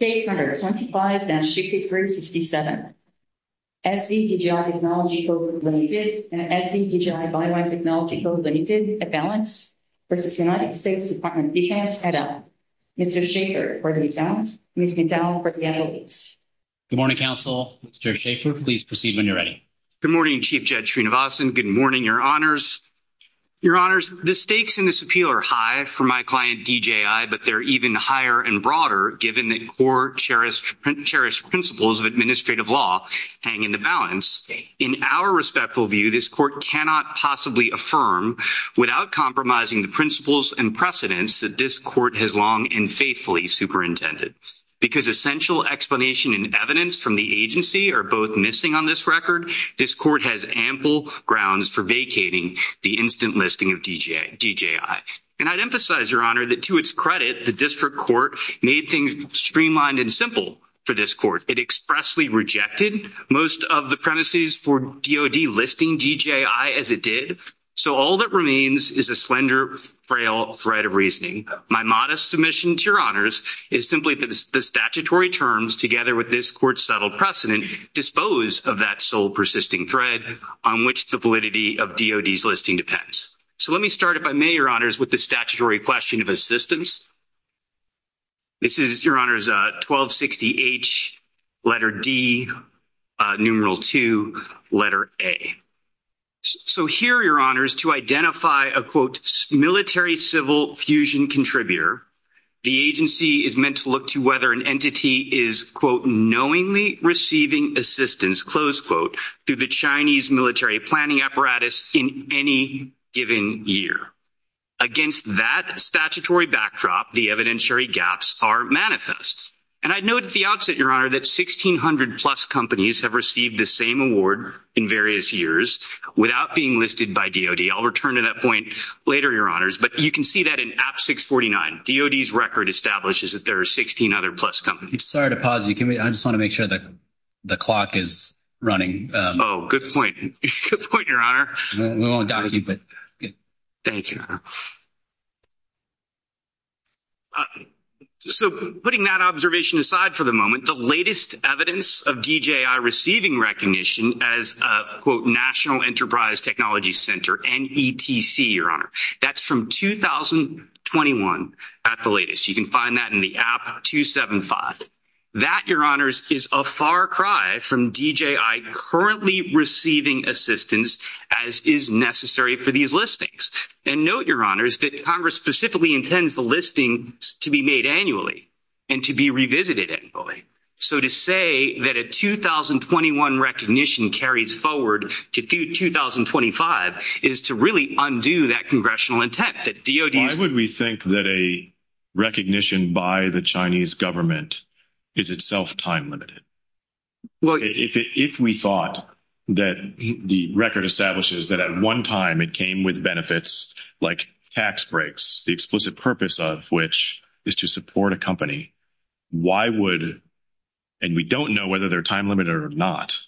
States No. 25-6367 SZ DJI Technology Co., Ltd. and SZ DJI Biowire Technology Co., Ltd. at Balance v. United States Department of Defense, HEDL, Mr. Schaefer for the account, Ms. McDowell for the evidence. Good morning, Counsel. Mr. Schaefer, please proceed when you're ready. Good morning, Chief Judge Srinivasan. Good morning, Your Honors. Your Honors, the stakes in this appeal are high for my client DJI, but they're even higher and broader given that core, cherished principles of administrative law hang in the balance. In our respectful view, this court cannot possibly affirm without compromising the principles and precedents that this court has long and faithfully superintended. Because essential explanation and evidence from the agency are both missing on this record, this court has ample grounds for vacating the instant listing of DJI. And I'd emphasize, Your Honor, that to its credit, the district court made things streamlined and simple for this court. It expressly rejected most of the premises for DOD listing DJI as it did. So all that remains is a slender, frail thread of reasoning. My modest submission to Your Honors is simply that the statutory terms, together with this court's subtle precedent, dispose of that sole persisting thread on which the validity of DOD's listing depends. So let me start, if I may, Your Honors, with the statutory question of assistance. This is, Your Honors, 1260H, letter D, numeral 2, letter A. So here, Your Honors, to identify a, quote, military-civil fusion contributor, the agency is meant to look to whether an entity is, quote, knowingly receiving assistance, close quote, through the Chinese military planning apparatus in any given year. Against that statutory backdrop, the evidentiary gaps are manifest. And I'd note at the outset, Your Honor, that 1,600-plus companies have received the same award in various years without being listed by DOD. I'll return to that point later, Your Honors, but you can see that in AB 649. DOD's record establishes that there are 16 other-plus companies. Sorry to pause you. Can we, I just want to make sure that the clock is running. Oh, good point. Good point, Your Honor. We won't dock you, but, yeah. Thank you, Your Honor. So putting that observation aside for the moment, the latest evidence of DJI receiving recognition as, quote, National Enterprise Technology Center, NETC, Your Honor, that's from 2021 at the latest. You can find that in the app 275. That, Your Honors, is a far cry from DJI currently receiving assistance as is necessary for these listings. And note, Your Honors, that Congress specifically intends the listings to be made annually and to be revisited annually. So to say that a 2021 recognition carries forward to 2025 is to really undo that congressional intent that DOD's... Why would we think that a recognition by the Chinese government is itself time-limited? If we thought that the record establishes that at one time it came with benefits like tax breaks, the explicit purpose of which is to support a company, why would, and we don't know whether they're time-limited or not,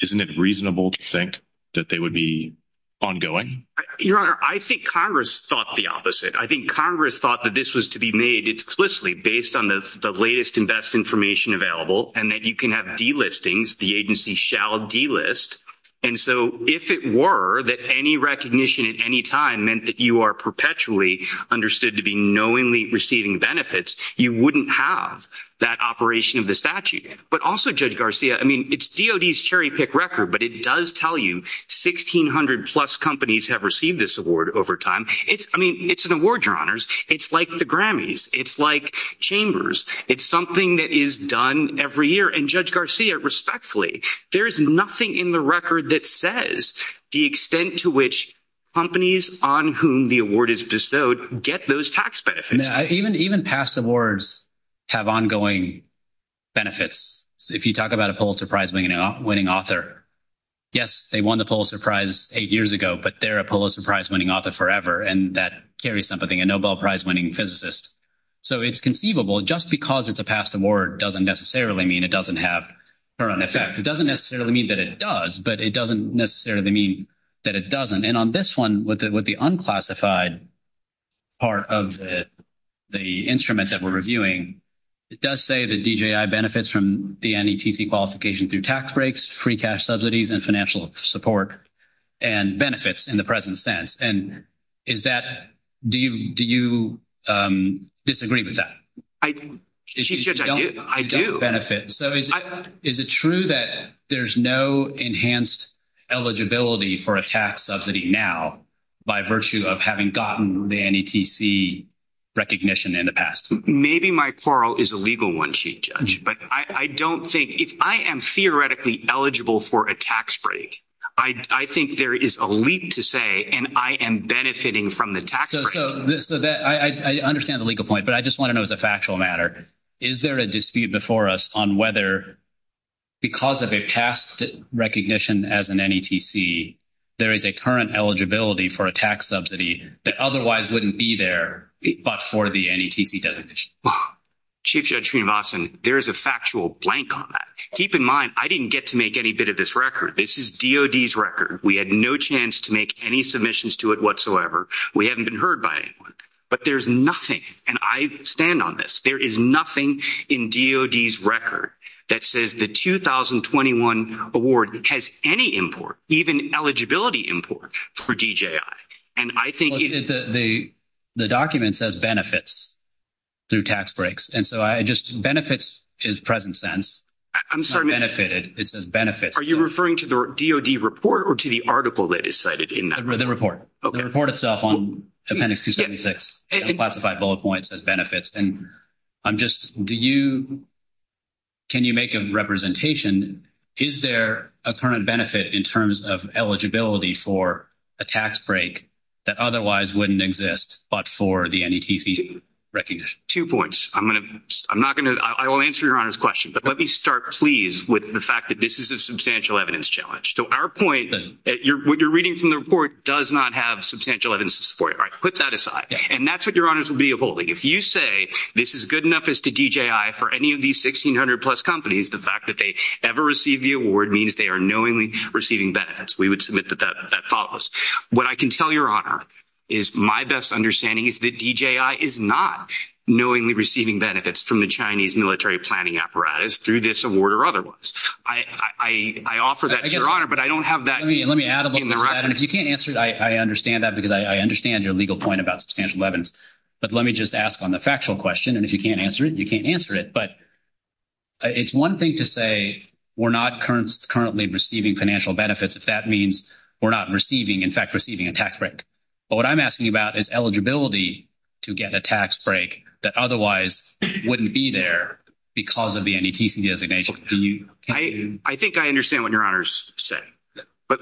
isn't it reasonable to think that they would be ongoing? Your Honor, I think Congress thought the opposite. I think Congress thought that this was to be made explicitly based on the latest and best information available and that you can have delistings, the agency shall delist. And so if it were that any recognition at any time meant that you are perpetually understood to be knowingly receiving benefits, you wouldn't have that operation of the statute. But also, Judge Garcia, I mean, it's DOD's cherry-pick record, but it does tell you 1,600-plus companies have received this award over time. I mean, it's an award, Your Honors. It's like the Grammys. It's like Chambers. It's something that is done every year. And Judge Garcia, respectfully, there is nothing in the record that says the extent to which companies on whom the award is bestowed get those tax benefits. Even past awards have ongoing benefits. If you talk about a Pulitzer Prize-winning author, yes, they won the Pulitzer Prize eight years ago, but they're a Pulitzer Prize-winning author forever, and that carries something, a Nobel Prize-winning physicist. So it's conceivable, just because it's a past award doesn't necessarily mean it doesn't have current effects. It doesn't necessarily mean that it does, but it doesn't necessarily mean that it doesn't. And on this one, with the unclassified part of the instrument that we're reviewing, it does say that DJI benefits from the NETC qualification through tax breaks, free cash subsidies, and financial support and benefits in the present sense. And is that, do you disagree with that? Chief Judge, I do. So is it true that there's no enhanced eligibility for a tax subsidy now by virtue of having gotten the NETC recognition in the past? Maybe my quarrel is a legal one, Chief Judge, but I don't think, if I am theoretically eligible for a tax break, I think there is a leak to say, and I am benefiting from the tax break. So I understand the legal point, but I just want to know as a factual matter, is there a dispute before us on whether, because of a past recognition as an NETC, there is a current eligibility for a tax subsidy that otherwise wouldn't be there but for the NETC designation? Chief Judge Sreenivasan, there is a factual blank on that. Keep in mind, I didn't get to make any bit of this record. This is DOD's record. We had no chance to make any submissions to it whatsoever. We haven't been heard by anyone. But there's nothing, and I stand on this, there is nothing in DOD's record that says the 2021 award has any import, even eligibility import, for DJI. And I think— Well, the document says benefits through tax breaks, and so I just, benefits is present sense. I'm sorry. Benefited. It says benefits. Are you referring to the DOD report or to the article that is cited in that? The report. The report itself on Appendix 276, unclassified bullet points as benefits. And I'm just, do you, can you make a representation, is there a current benefit in terms of eligibility for a tax break that otherwise wouldn't exist but for the NETC recognition? Two points. I'm going to, I'm not going to, I will answer Your Honor's question, but let me start, please, with the fact that this is a substantial evidence challenge. So our point, what you're reading from the report does not have substantial evidence to support it. All right, put that aside. And that's what Your Honor's will be upholding. If you say this is good enough as to DJI for any of these 1,600-plus companies, the fact that they ever received the award means they are knowingly receiving benefits. We would submit that that follows. What I can tell Your Honor is my best understanding is that DJI is not knowingly receiving benefits from the Chinese military planning apparatus through this award or otherwise. I offer that to Your Honor, but I don't have that in the record. Let me add a little bit to that. And if you can't answer it, I understand that because I understand your legal point about substantial evidence. But let me just ask on the factual question, and if you can't answer it, you can't answer it. But it's one thing to say we're not currently receiving financial benefits if that means we're not receiving, in fact, receiving a tax break. But what I'm asking about is eligibility to get a tax break that otherwise wouldn't be there because of the NETC designation. I think I understand what Your Honor's saying, but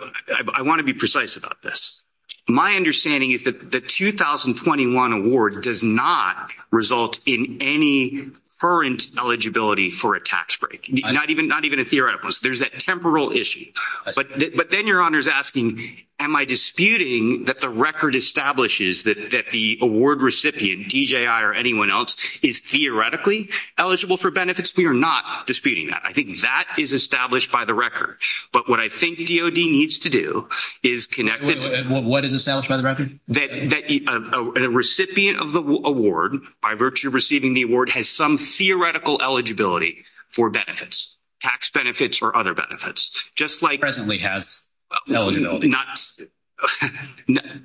I want to be precise about this. My understanding is that the 2021 award does not result in any current eligibility for a tax break, not even a theoretical. There's that temporal issue. But then Your Honor's asking, am I disputing that the record establishes that the award recipient, DJI or anyone else, is theoretically eligible for benefits? We are not disputing that. I think that is established by the record. But what I think DOD needs to do is connect it to— What is established by the record? That a recipient of the award, by virtue of receiving the award, has some theoretical eligibility for benefits, tax benefits or other benefits. Presently has eligibility.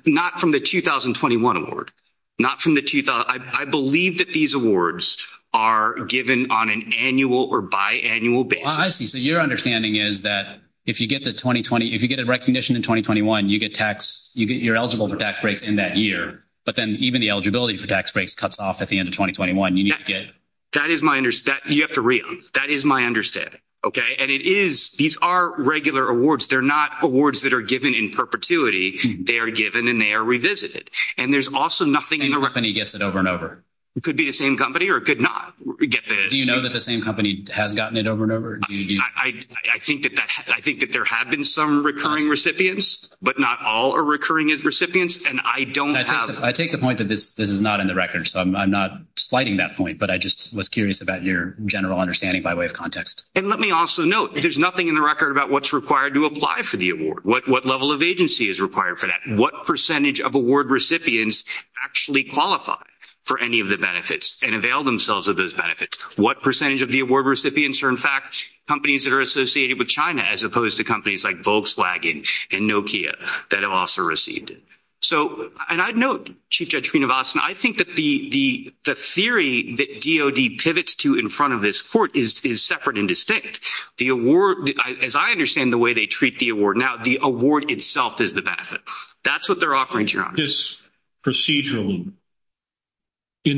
Not from the 2021 award. Not from the—I believe that these awards are given on an annual or biannual basis. I see. So your understanding is that if you get the 2020—if you get a recognition in 2021, you get tax—you're eligible for tax breaks in that year. But then even the eligibility for tax breaks cuts off at the end of 2021. You need to get— That is my—you have to read on. That is my understanding. Okay? And it is—these are regular awards. They're not awards that are given in perpetuity. They are given and they are revisited. And there's also nothing— The same company gets it over and over. It could be the same company or it could not get the— Do you know that the same company has gotten it over and over? I think that there have been some recurring recipients, but not all are recurring as recipients. And I don't have— I take the point that this is not in the record, so I'm not slighting that point. But I just was curious about your general understanding by way of context. And let me also note, there's nothing in the record about what's required to apply for the award, what level of agency is required for that, what percentage of award recipients actually qualify for any of the benefits and avail themselves of those benefits, what percentage of the award recipients are, in fact, companies that are associated with China as opposed to companies like Volkswagen and Nokia that have also received it. So—and I'd note, Chief Judge Srinivasan, I think that the theory that DOD pivots to in front of this court is separate and distinct. The award—as I understand the way they treat the award now, the award itself is the benefit. That's what they're offering, Your Honor. This procedural—in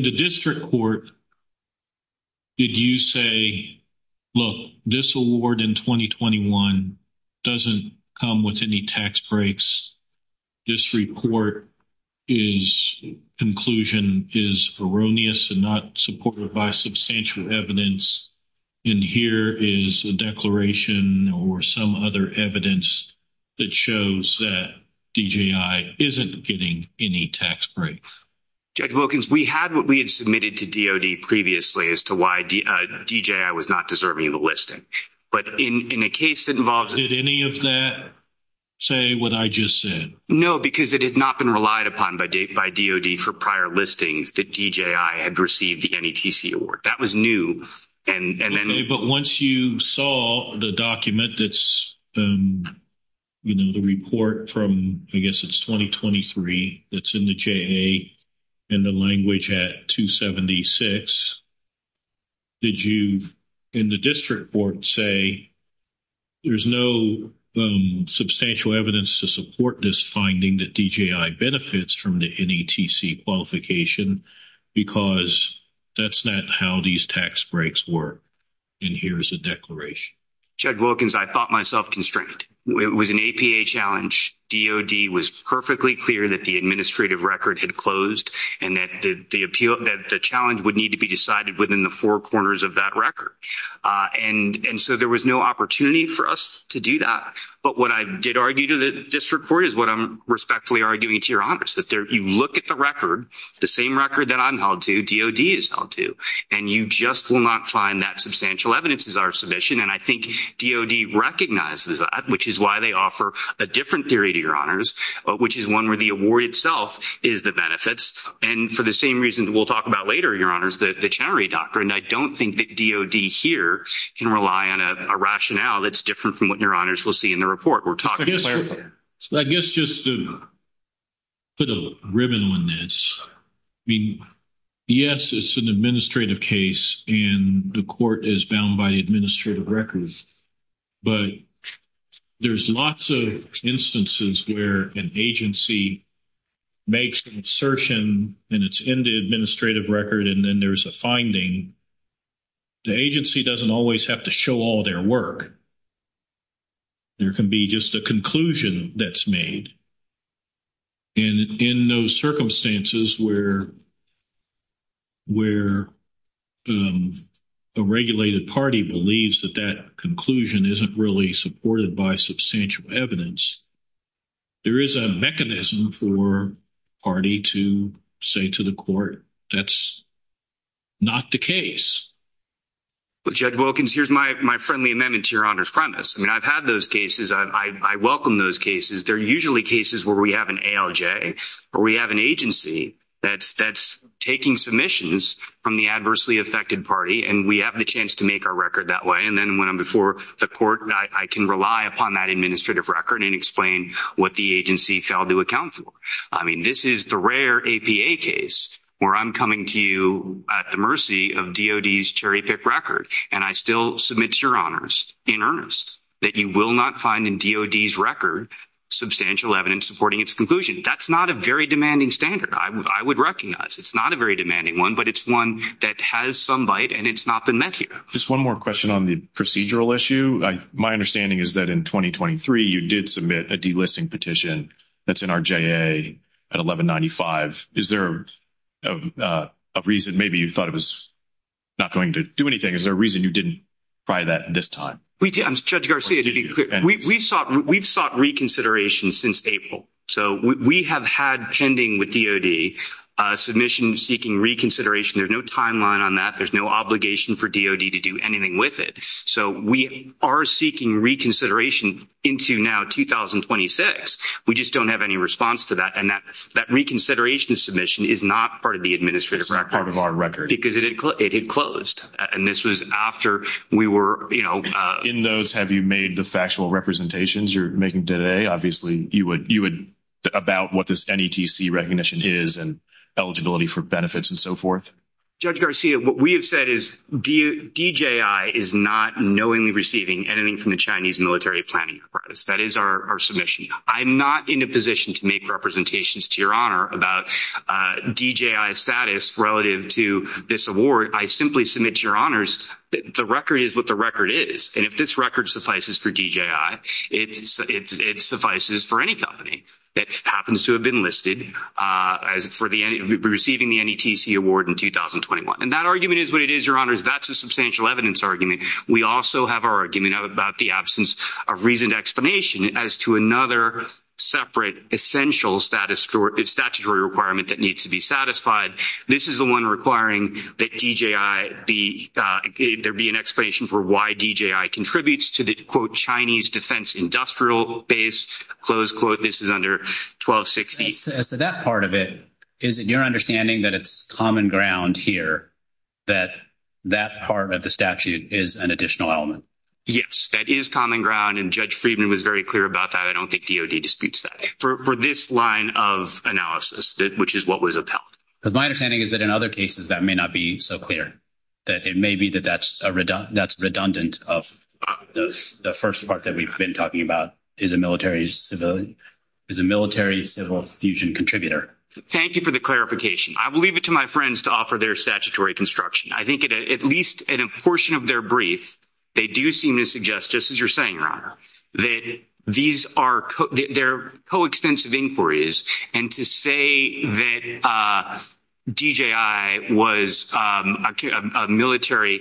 the district court, did you say, look, this award in 2021 doesn't come with any tax breaks, this report's conclusion is erroneous and not supported by substantial evidence, and here is a declaration or some other evidence that shows that DJI isn't getting any tax breaks? Judge Wilkins, we had what we had submitted to DOD previously as to why DJI was not deserving of the listing. But in a case that involves— Did any of that say what I just said? No, because it had not been relied upon by DOD for prior listings that DJI had received the NETC award. That was new. And then— Okay, but once you saw the document that's—you know, the report from, I guess it's 2023, that's in the JA and the language at 276, did you, in the district court, say there's no substantial evidence to support this finding that DJI benefits from the NETC qualification because that's not how these tax breaks work? And here's a declaration. Judge Wilkins, I thought myself constrained. It was an APA challenge. DOD was perfectly clear that the administrative record had closed and that the appeal—that the challenge would need to be decided within the four corners of that record. And so there was no opportunity for us to do that. But what I did argue to the district court is what I'm respectfully arguing to your You look at the record, the same record that I'm held to, DOD is held to, and you just will not find that substantial evidence is our submission. And I think DOD recognizes that, which is why they offer a different theory to your honors, which is one where the award itself is the benefits. And for the same reason that we'll talk about later, your honors, the Chenery doctrine, I don't think that DOD here can rely on a rationale that's different from what your honors will see in the report. We're talking— So I guess just to put a ribbon on this, I mean, yes, it's an administrative case and the court is bound by the administrative records. But there's lots of instances where an agency makes an assertion and it's in the administrative record and then there's a finding. The agency doesn't always have to show all their work. There can be just a conclusion that's made. And in those circumstances where a regulated party believes that that conclusion isn't really supported by substantial evidence, there is a mechanism for a party to say to the court, that's not the case. Well, Judge Wilkins, here's my friendly amendment to your honors premise. I mean, I've had those cases. I welcome those cases. They're usually cases where we have an ALJ or we have an agency that's taking submissions from the adversely affected party and we have the chance to make our record that way. And then when I'm before the court, I can rely upon that administrative record and explain what the agency failed to account for. I mean, this is the rare APA case where I'm coming to you at the mercy of DOD's cherry pick record and I still submit to your honors in earnest that you will not find in DOD's record substantial evidence supporting its conclusion. That's not a very demanding standard. I would recognize it's not a very demanding one, but it's one that has some bite and it's not been met here. Just one more question on the procedural issue. My understanding is that in 2023, you did submit a delisting petition that's in our JA at 1195. Is there a reason maybe you thought it was not going to do anything? Is there a reason you didn't try that this time? Judge Garcia, to be clear, we've sought reconsideration since April. So we have had pending with DOD submission seeking reconsideration. There's no timeline on that. There's no obligation for DOD to do anything with it. So we are seeking reconsideration into now 2026. We just don't have any response to that. And that reconsideration submission is not part of the administrative record. It's not part of our record. Because it had closed. And this was after we were, you know. In those, have you made the factual representations you're making today? Obviously, you would about what this NETC recognition is and eligibility for benefits and so forth. Judge Garcia, what we have said is DJI is not knowingly receiving anything from the Chinese military planning. That is our submission. I'm not in a position to make representations to your honor about DJI status relative to this award. I simply submit to your honors that the record is what the record is. And if this record suffices for DJI, it suffices for any company that happens to have been listed for receiving the NETC award in 2021. And that argument is what it is, your honors. That's a substantial evidence argument. We also have our argument about the absence of reasoned explanation as to another separate essential statutory requirement that needs to be satisfied. This is the one requiring that DJI be, there be an explanation for why DJI contributes to the quote Chinese defense industrial base, close quote. This is under 1260. As to that part of it, is it your understanding that it's common ground here that that part of the statute is an additional element? Yes, that is common ground. And Judge Friedman was very clear about that. I don't think DOD disputes that for this line of analysis, which is what was upheld. But my understanding is that in other cases, that may not be so clear. That it may be that that's a redundant, that's redundant of the first part that we've been talking about is a military civil, is a military civil fusion contributor. Thank you for the clarification. I will leave it to my friends to offer their statutory construction. I think at least in a portion of their brief, they do seem to suggest, just as you're saying, your honor, that these are, they're coextensive inquiries. To say that DJI was a military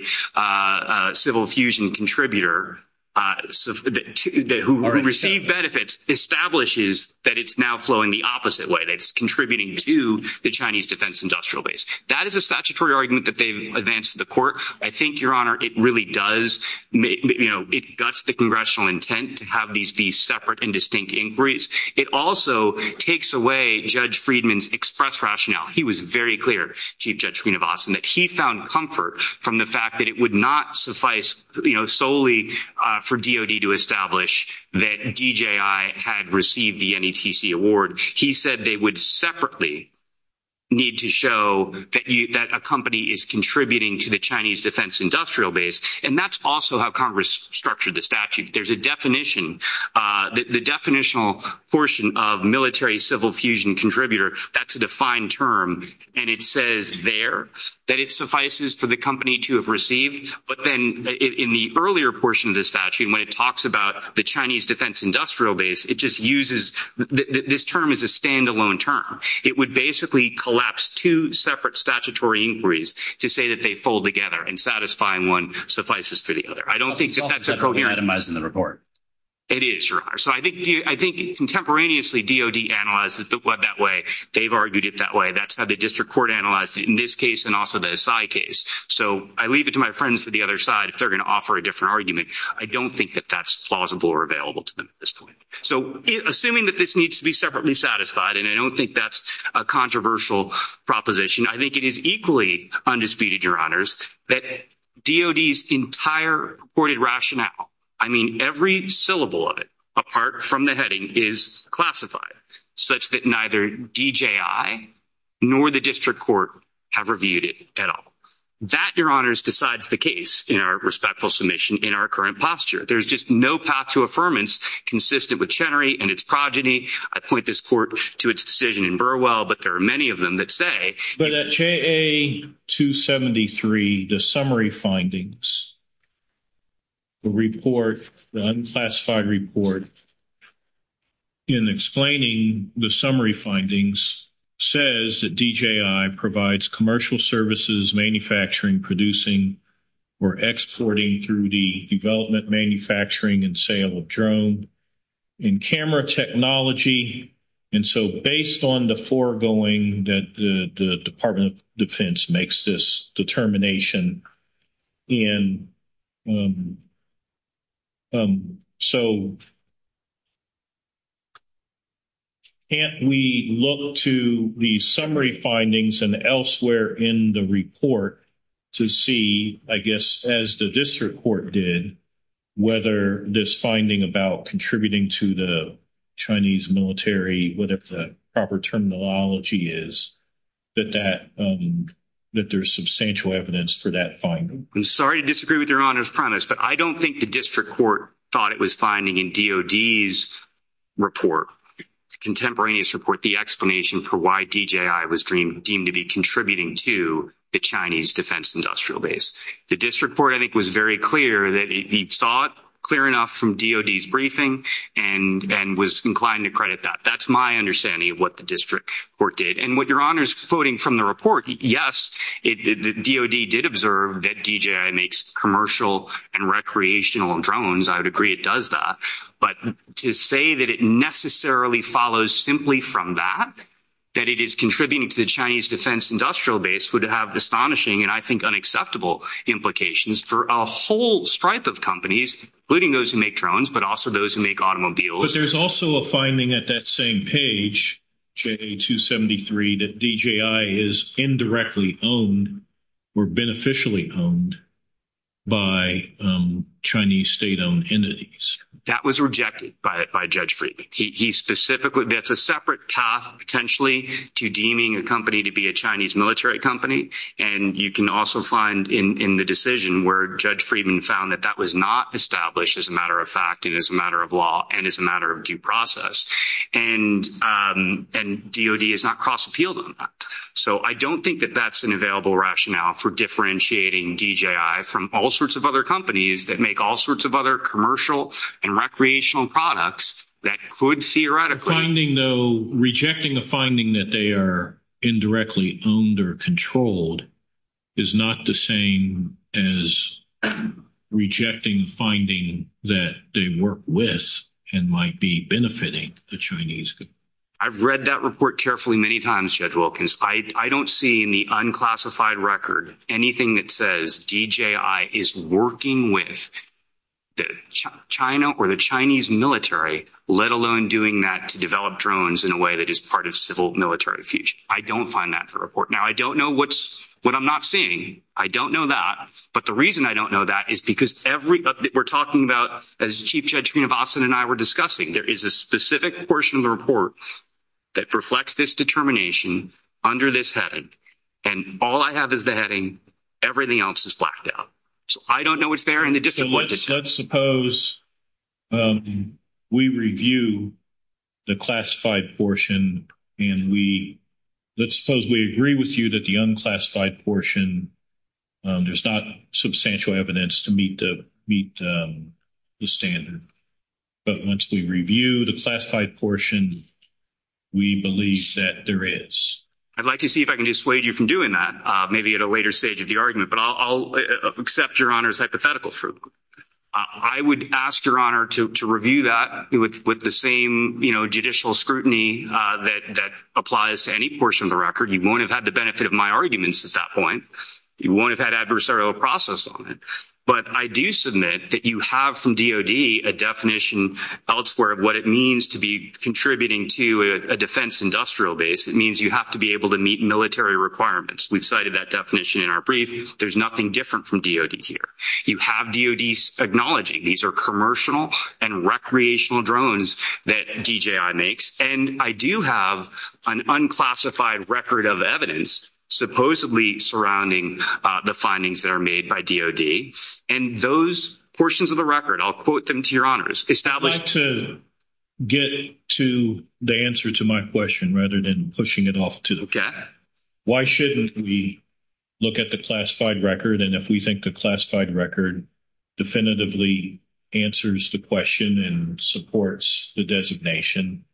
civil fusion contributor, who received benefits, establishes that it's now flowing the opposite way. That it's contributing to the Chinese defense industrial base. That is a statutory argument that they've advanced to the court. I think, your honor, it really does. It guts the congressional intent to have these be separate and distinct inquiries. It also takes away Judge Friedman's express rationale. He was very clear, Chief Judge Srinivasan, that he found comfort from the fact that it would not suffice solely for DOD to establish that DJI had received the NETC award. He said they would separately need to show that a company is contributing to the Chinese defense industrial base. And that's also how Congress structured the statute. There's a definition. The definitional portion of military civil fusion contributor, that's a defined term. And it says there that it suffices for the company to have received. But then in the earlier portion of the statute, when it talks about the Chinese defense industrial base, it just uses, this term is a standalone term. It would basically collapse two separate statutory inquiries to say that they fold together. And satisfying one suffices for the other. I don't think that's a coherent. It's also federally itemized in the report. It is, Your Honor. So I think contemporaneously, DOD analyzed it that way. They've argued it that way. That's how the district court analyzed it in this case and also the Asai case. So I leave it to my friends to the other side if they're going to offer a different argument. I don't think that that's plausible or available to them at this point. So assuming that this needs to be separately satisfied, and I don't think that's a controversial proposition, I think it is equally undisputed, Your Honors, that DOD's entire purported rationale, I mean, every syllable of it, apart from the heading, is classified such that neither DJI nor the district court have reviewed it at all. That, Your Honors, decides the case in our respectful submission in our current posture. There's just no path to affirmance consistent with Chenery and its progeny. I point this court to its decision in Burwell, but there are many of them that say- The report, the unclassified report in explaining the summary findings says that DJI provides commercial services, manufacturing, producing, or exporting through the development, manufacturing, and sale of drone and camera technology. And so based on the foregoing that the Department of Defense makes this determination and so can't we look to the summary findings and elsewhere in the report to see, I guess, as the district court did, whether this finding about contributing to the Chinese military, what if the proper terminology is that there's substantial evidence for that finding? I'm sorry to disagree with Your Honors premise, but I don't think the district court thought it was finding in DOD's report, contemporaneous report, the explanation for why DJI was deemed to be contributing to the Chinese defense industrial base. The district court, I think, was very clear that he saw it clear enough from DOD's briefing and was inclined to credit that. That's my understanding of what the district court did. And with Your Honors quoting from the report, yes, the DOD did observe that DJI makes commercial and recreational drones. I would agree it does that. But to say that it necessarily follows simply from that, that it is contributing to the Chinese defense industrial base would have astonishing and I think unacceptable implications for a whole stripe of companies, including those who make drones, but also those who make automobiles. There's also a finding at that same page, J273, that DJI is indirectly owned or beneficially owned by Chinese state-owned entities. That was rejected by Judge Friedman. He specifically, that's a separate path potentially to deeming a company to be a Chinese military company. And you can also find in the decision where Judge Friedman found that that was not established as a matter of fact and as a matter of law and as a matter of due process. And DOD is not cross-appealed on that. So I don't think that that's an available rationale for differentiating DJI from all sorts of other companies that make all sorts of other commercial and recreational products that could theoretically Finding though, rejecting a finding that they are indirectly owned or controlled is not the same as rejecting a finding that they work with and might be benefiting a Chinese company. I've read that report carefully many times, Judge Wilkins. I don't see in the unclassified record anything that says DJI is working with China or the Chinese military, let alone doing that to develop drones in a way that is part of civil military future. I don't find that to report. Now, I don't know what I'm not seeing. I don't know that. But the reason I don't know that is because every update we're talking about, as Chief Judge Srinivasan and I were discussing, there is a specific portion of the report that reflects this determination under this heading. And all I have is the heading. Everything else is blacked out. So I don't know what's there and the difference. Let's suppose we review the classified portion and we let's suppose we agree with you that the unclassified portion, there's not substantial evidence to meet the standard. But once we review the classified portion, we believe that there is. I'd like to see if I can dissuade you from doing that, maybe at a later stage of the I'll accept your Honor's hypothetical. I would ask your Honor to review that with the same judicial scrutiny that applies to any portion of the record. You won't have had the benefit of my arguments at that point. You won't have had adversarial process on it. But I do submit that you have from DOD a definition elsewhere of what it means to be contributing to a defense industrial base. It means you have to be able to meet military requirements. We've cited that definition in our brief. There's nothing different from DOD here. You have DOD acknowledging these are commercial and recreational drones that DJI makes. And I do have an unclassified record of evidence supposedly surrounding the findings that are made by DOD. And those portions of the record, I'll quote them to your Honors. Establish. I'd like to get to the answer to my question rather than pushing it off to the fact. Why shouldn't we look at the classified record? And if we think the classified record definitively answers the question and supports the designation,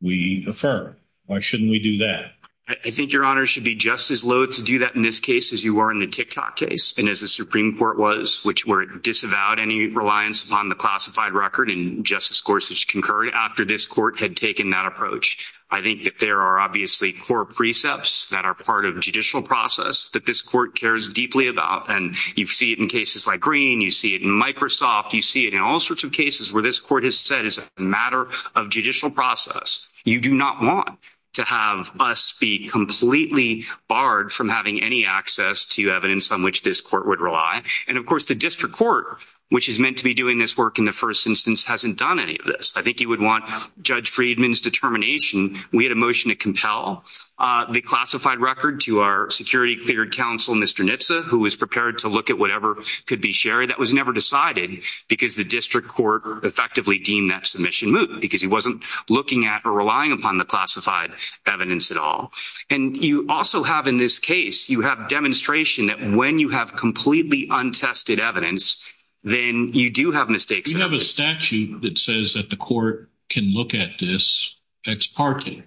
we affirm. Why shouldn't we do that? I think your Honor should be just as loath to do that in this case as you were in the TikTok case and as the Supreme Court was, which disavowed any reliance upon the classified record and Justice Gorsuch concurred after this court had taken that approach. I think that there are obviously core precepts that are part of judicial process that this court cares deeply about. And you see it in cases like Green. You see it in Microsoft. You see it in all sorts of cases where this court has said is a matter of judicial process. You do not want to have us be completely barred from having any access to evidence on which this court would rely. And of course, the district court, which is meant to be doing this work in the first instance, hasn't done any of this. I think you would want Judge Friedman's determination. We had a motion to compel the classified record to our security cleared counsel, Mr. Nitsa, who was prepared to look at whatever could be shared. That was never decided because the district court effectively deemed that submission moot because he wasn't looking at or relying upon the classified evidence at all. And you also have, in this case, you have demonstration that when you have completely untested evidence, then you do have mistakes. You have a statute that says that the court can look at this ex parte,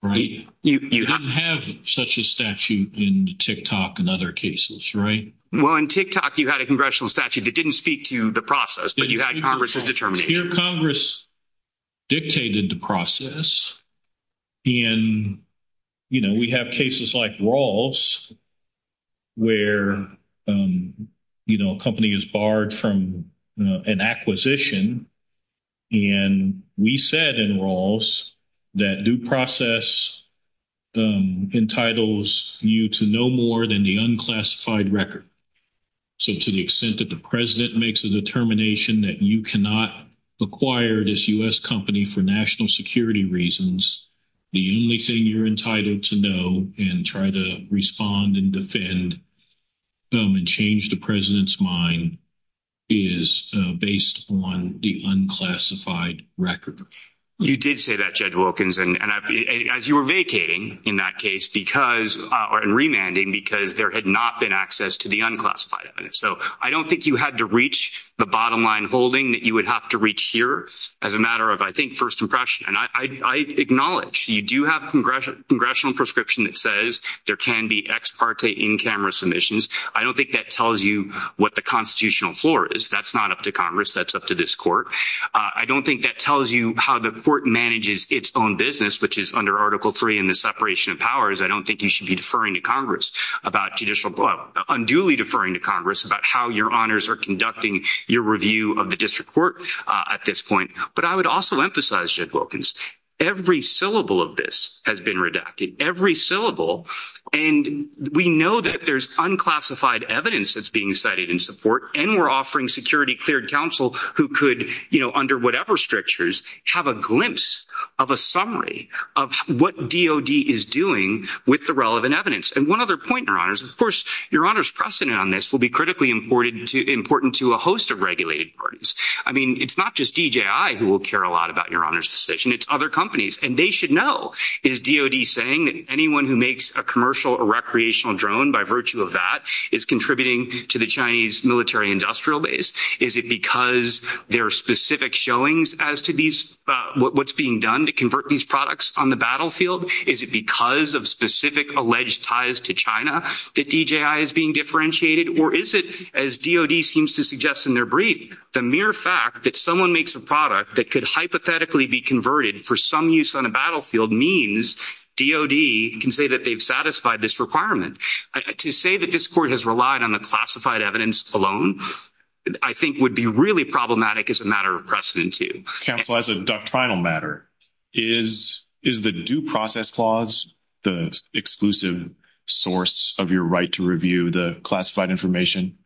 right? You don't have such a statute in the TikTok and other cases, right? Well, in TikTok, you had a congressional statute that didn't speak to the process, but you had Congress's determination. Congress dictated the process, and, you know, we have cases like Rawls where, you know, a company is barred from an acquisition. And we said in Rawls that due process entitles you to no more than the unclassified record. So to the extent that the president makes a determination that you cannot acquire this U.S. company for national security reasons, the only thing you're entitled to know and try to respond and defend and change the president's mind is based on the unclassified record. You did say that, Judge Wilkins. And as you were vacating in that case because or in remanding because there had not been unclassified evidence. So I don't think you had to reach the bottom line holding that you would have to reach here as a matter of, I think, first impression. And I acknowledge you do have a congressional prescription that says there can be ex parte in-camera submissions. I don't think that tells you what the constitutional floor is. That's not up to Congress. That's up to this court. I don't think that tells you how the court manages its own business, which is under Article III and the separation of powers. I don't think you should be deferring to Congress about judicial, unduly deferring to Congress about how your honors are conducting your review of the district court at this point. But I would also emphasize, Judge Wilkins, every syllable of this has been redacted. Every syllable. And we know that there's unclassified evidence that's being cited in support. And we're offering security cleared counsel who could, you know, with the relevant evidence. And one other point, Your Honors, of course, Your Honor's precedent on this will be critically important to a host of regulated parties. I mean, it's not just DJI who will care a lot about Your Honor's decision. It's other companies. And they should know. Is DOD saying that anyone who makes a commercial or recreational drone by virtue of that is contributing to the Chinese military industrial base? Is it because there are specific showings as to these, what's being done to convert these products on the battlefield? Is it because of specific alleged ties to China that DJI is being differentiated? Or is it, as DOD seems to suggest in their brief, the mere fact that someone makes a product that could hypothetically be converted for some use on a battlefield means DOD can say that they've satisfied this requirement. To say that this court has relied on the classified evidence alone, I think would be really problematic as a matter of precedent, too. Counsel, as a doctrinal matter, is the Due Process Clause the exclusive source of your right to review the classified information?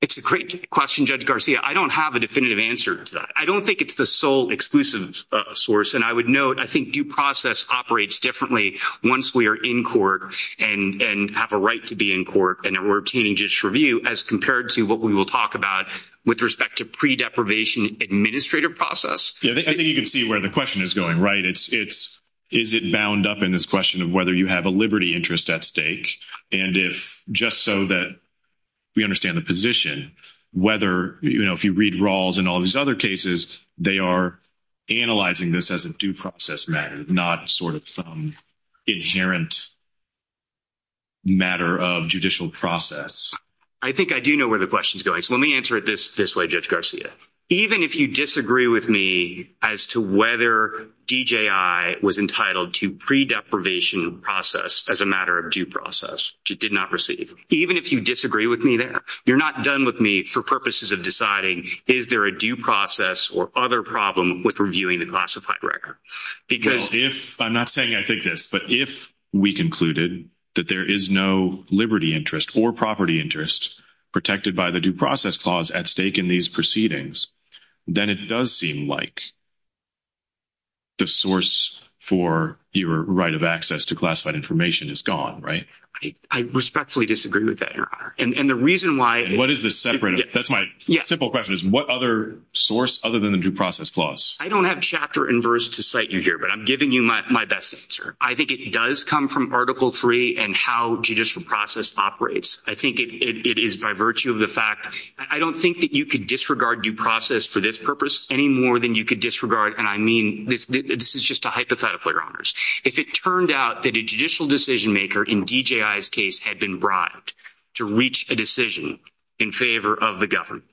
It's a great question, Judge Garcia. I don't have a definitive answer to that. I don't think it's the sole exclusive source. And I would note, I think due process operates differently once we are in court and have a right to be in court and we're obtaining just review as compared to what we will talk about with respect to pre-deprivation administrative process. I think you can see where the question is going, right? Is it bound up in this question of whether you have a liberty interest at stake? And if just so that we understand the position, whether, you know, if you read Rawls and all these other cases, they are analyzing this as a due process matter, not sort of some inherent matter of judicial process. I think I do know where the question is going. So let me answer it this way, Judge Garcia. Even if you disagree with me as to whether DJI was entitled to pre-deprivation process as a matter of due process, which it did not receive, even if you disagree with me there, you're not done with me for purposes of deciding is there a due process or other problem with reviewing the classified record? Because if, I'm not saying I think this, but if we concluded that there is no liberty interest or property interest protected by the due process clause at stake in these proceedings, then it does seem like the source for your right of access to classified information is gone, right? I respectfully disagree with that, Your Honor. And the reason why... What is the separate? That's my simple question is what other source other than the due process clause? I don't have chapter and verse to cite you here, but I'm giving you my best answer. I think it does come from Article 3 and how judicial process operates. I think it is by virtue of the fact, I don't think that you could disregard due process for this purpose any more than you could disregard. And I mean, this is just a hypothetical, Your Honors. If it turned out that a judicial decision maker in DJI's case had been bribed to reach a decision in favor of the government,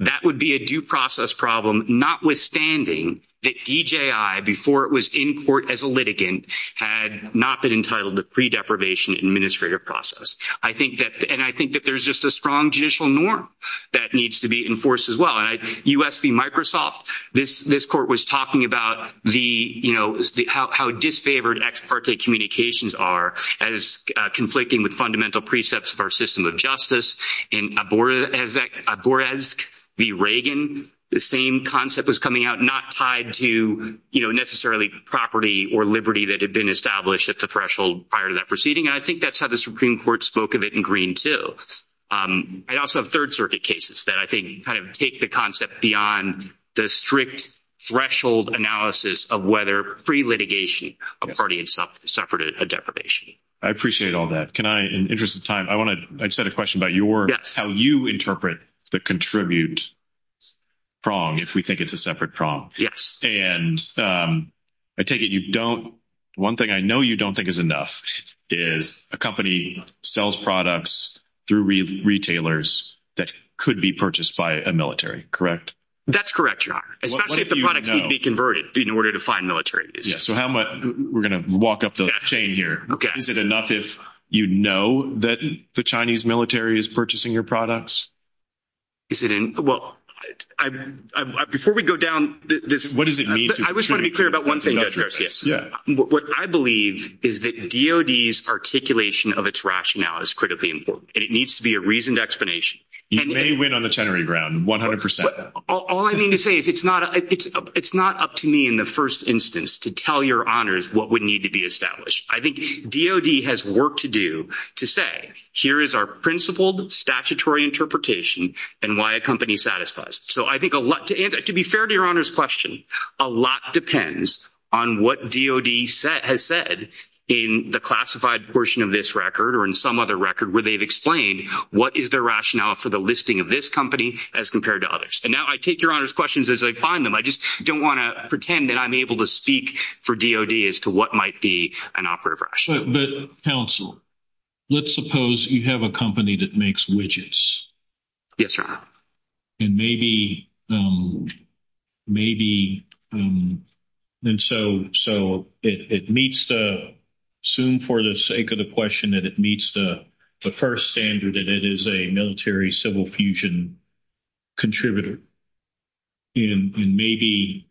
that would be a due process problem, notwithstanding that DJI, before it was in court as a litigant, had not been entitled to pre-deprivation administrative process. And I think that there's just a strong judicial norm that needs to be enforced as well. And US v. Microsoft, this court was talking about how disfavored ex parte communications are as conflicting with fundamental precepts of our system of justice. In Oborezk v. Reagan, the same concept was coming out, not tied to, you know, necessarily property or liberty that had been established at the threshold prior to that proceeding. And I think that's how the Supreme Court spoke of it in Green, too. I also have Third Circuit cases that I think kind of take the concept beyond the strict threshold analysis of whether pre-litigation a party itself suffered a deprivation. I appreciate all that. Can I, in the interest of time, I want to, I just had a question about your, how you interpret the contribute prong, if we think it's a separate prong. And I take it you don't, one thing I know you don't think is enough is a company sells products through retailers that could be purchased by a military, correct? That's correct, your honor. Especially if the products need to be converted in order to find military. Yeah, so how much, we're going to walk up the chain here. Is it enough if you know that the Chinese military is purchasing your products? Is it in, well, before we go down this. What does it mean? I just want to be clear about one thing. What I believe is that DOD's articulation of its rationale is critically important, and it needs to be a reasoned explanation. You may win on the tenery ground, 100%. All I mean to say is it's not up to me in the first instance to tell your honors what would need to be established. I think DOD has work to do to say here is our principled statutory interpretation and why a company satisfies. So I think a lot to answer, to be fair to your honors question, a lot depends on what DOD has said in the classified portion of this record or in some other record where they've explained what is their rationale for the listing of this company as compared to others. And now I take your honors questions as I find them. I just don't want to pretend that I'm able to speak for DOD as to what might be an operative rationale. But counsel, let's suppose you have a company that makes widgets. Yes, your honor. And maybe, and so it meets the, assume for the sake of the question that it meets the first standard that it is a military-civil fusion contributor. And maybe,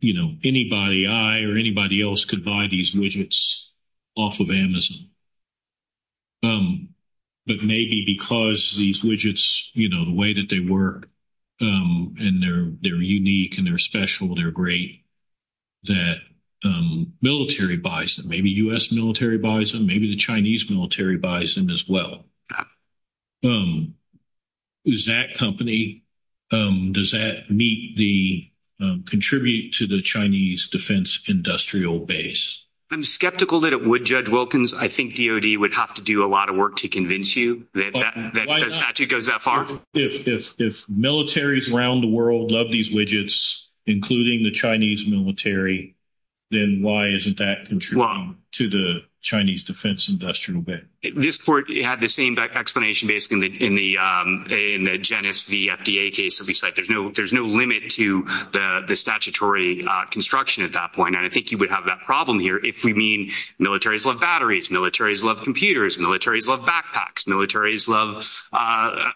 you know, anybody I or anybody else could buy these widgets off of Amazon. But maybe because these widgets, you know, the way that they work and they're unique and they're special, they're great, that military buys them, maybe U.S. military buys them, maybe the Chinese military buys them as well. Is that company, does that meet the, contribute to the Chinese defense industrial base? I'm skeptical that it would, Judge Wilkins. I think DOD would have to do a lot of work to convince you that the statute goes that far. If militaries around the world love these widgets, including the Chinese military, then why isn't that contributing to the Chinese defense industrial base? This court had the same explanation, basically, in the GENES, the FDA case. So we said there's no limit to the statutory construction at that point. And I think you would have that problem here if we mean militaries love batteries, militaries love computers, militaries love backpacks, militaries love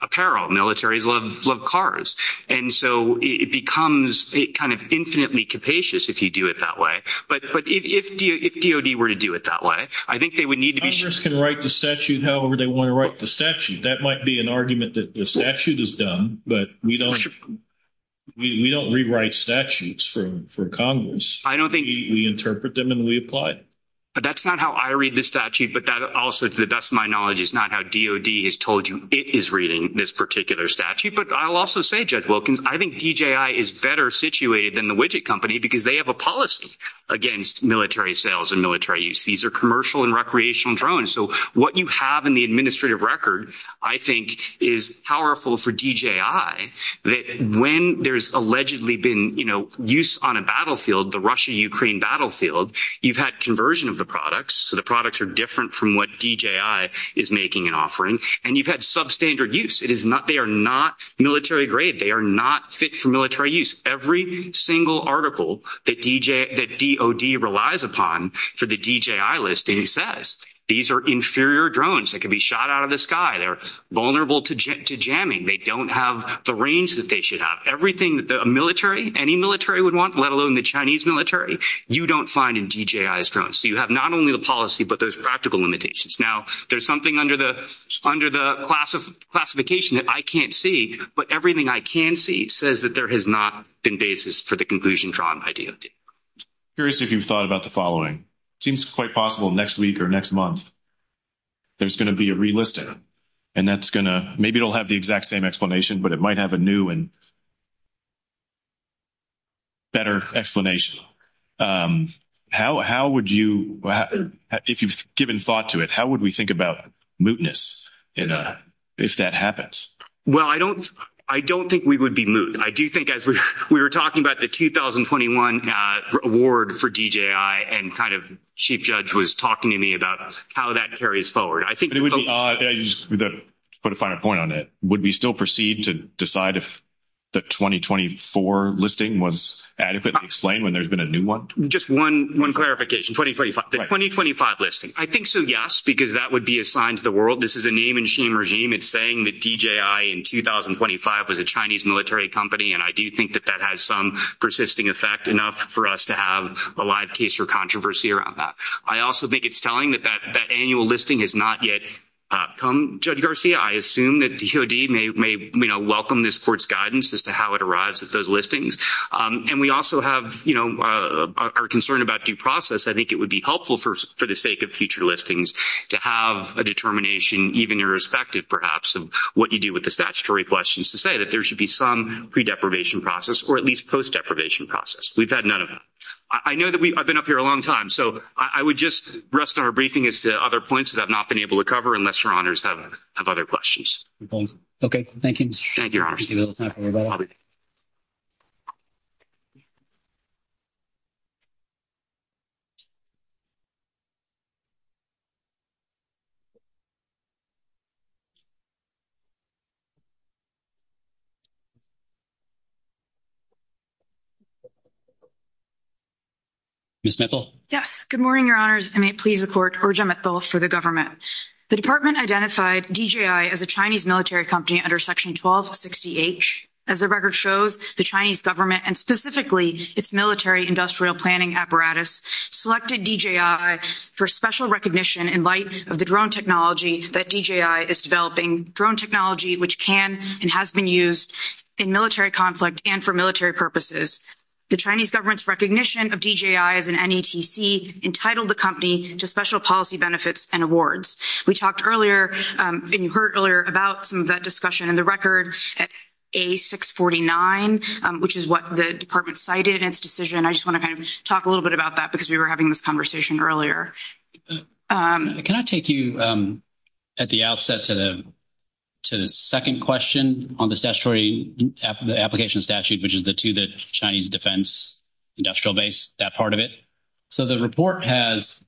apparel, militaries love cars. And so it becomes kind of infinitely capacious if you do it that way. But if DOD were to do it that way, I think they would need to be sure. Governors can write the statute however they want to write the statute. That might be an argument that the statute is dumb, but we don't rewrite statutes for Congress. We interpret them and we apply it. But that's not how I read the statute. But that also, to the best of my knowledge, is not how DOD has told you it is reading this particular statute. But I'll also say, Judge Wilkins, I think DJI is better situated than the widget company because they have a policy against military sales and military use. These are commercial and recreational drones. So what you have in the administrative record, I think, is powerful for DJI that when there's allegedly been use on a battlefield, the Russia-Ukraine battlefield, you've had conversion of the products. So the products are different from what DJI is making and offering. And you've had substandard use. They are not military grade. They are not fit for military use. Every single article that DOD relies upon for the DJI listing says these are inferior drones that can be shot out of the sky. They're vulnerable to jamming. They don't have the range that they should have. Everything that a military, any military would want, let alone the Chinese military, you don't find in DJI's drones. So you have not only the policy, but those practical limitations. Now, there's something under the classification that I can't see, but everything I can see says that there has not been basis for the conclusion drawn by DOD. I'm curious if you've thought about the following. It seems quite possible next week or next month, there's going to be a relisting. And that's going to, maybe it'll have the exact same explanation, but it might have a new and better explanation. How would you, if you've given thought to it, how would we think about mootness if that happens? Well, I don't, I don't think we would be moot. I do think as we were talking about the 2021 award for DJI and kind of Chief Judge was talking to me about how that carries forward. I think it would be. Put a finer point on it. Would we still proceed to decide if the 2024 listing was adequately explained when there's been a new one? Just one clarification, 2025, the 2025 listing. I think so, yes, because that would be assigned to the world. This is a name and shame regime. It's saying that DJI in 2025 was a Chinese military company. And I do think that that has some persisting effect enough for us to have a live case or controversy around that. I also think it's telling that that annual listing has not yet come. Judge Garcia, I assume that DOD may welcome this court's guidance as to how it arrives at those listings. And we also have our concern about due process. I think it would be helpful for the sake of future listings to have a determination, even irrespective, perhaps, of what you do with the statutory questions to say that there should be some pre-deprivation process or at least post-deprivation process. We've had none of that. I know that I've been up here a long time. So I would just rest on our briefing as to other points that I've not been able to cover unless your honors have other questions. Okay. Thank you. Thank you, your honor. Ms. Mithill? Yes. Good morning, your honors. And may it please the court, Urja Mithill for the government. The department identified DJI as a Chinese military company under section 1260H. As the record shows, the Chinese government and specifically its military industrial planning selected DJI for special recognition in light of the drone technology that DJI is developing, drone technology which can and has been used in military conflict and for military purposes. The Chinese government's recognition of DJI as an NETC entitled the company to special policy benefits and awards. We talked earlier and you heard earlier about some of that discussion in the record at A649, which is what the department cited in its decision. I just want to kind of talk a little bit about that because we were having this conversation earlier. Can I take you at the outset to the second question on the statutory application statute, which is to the Chinese defense industrial base, that part of it? So the report has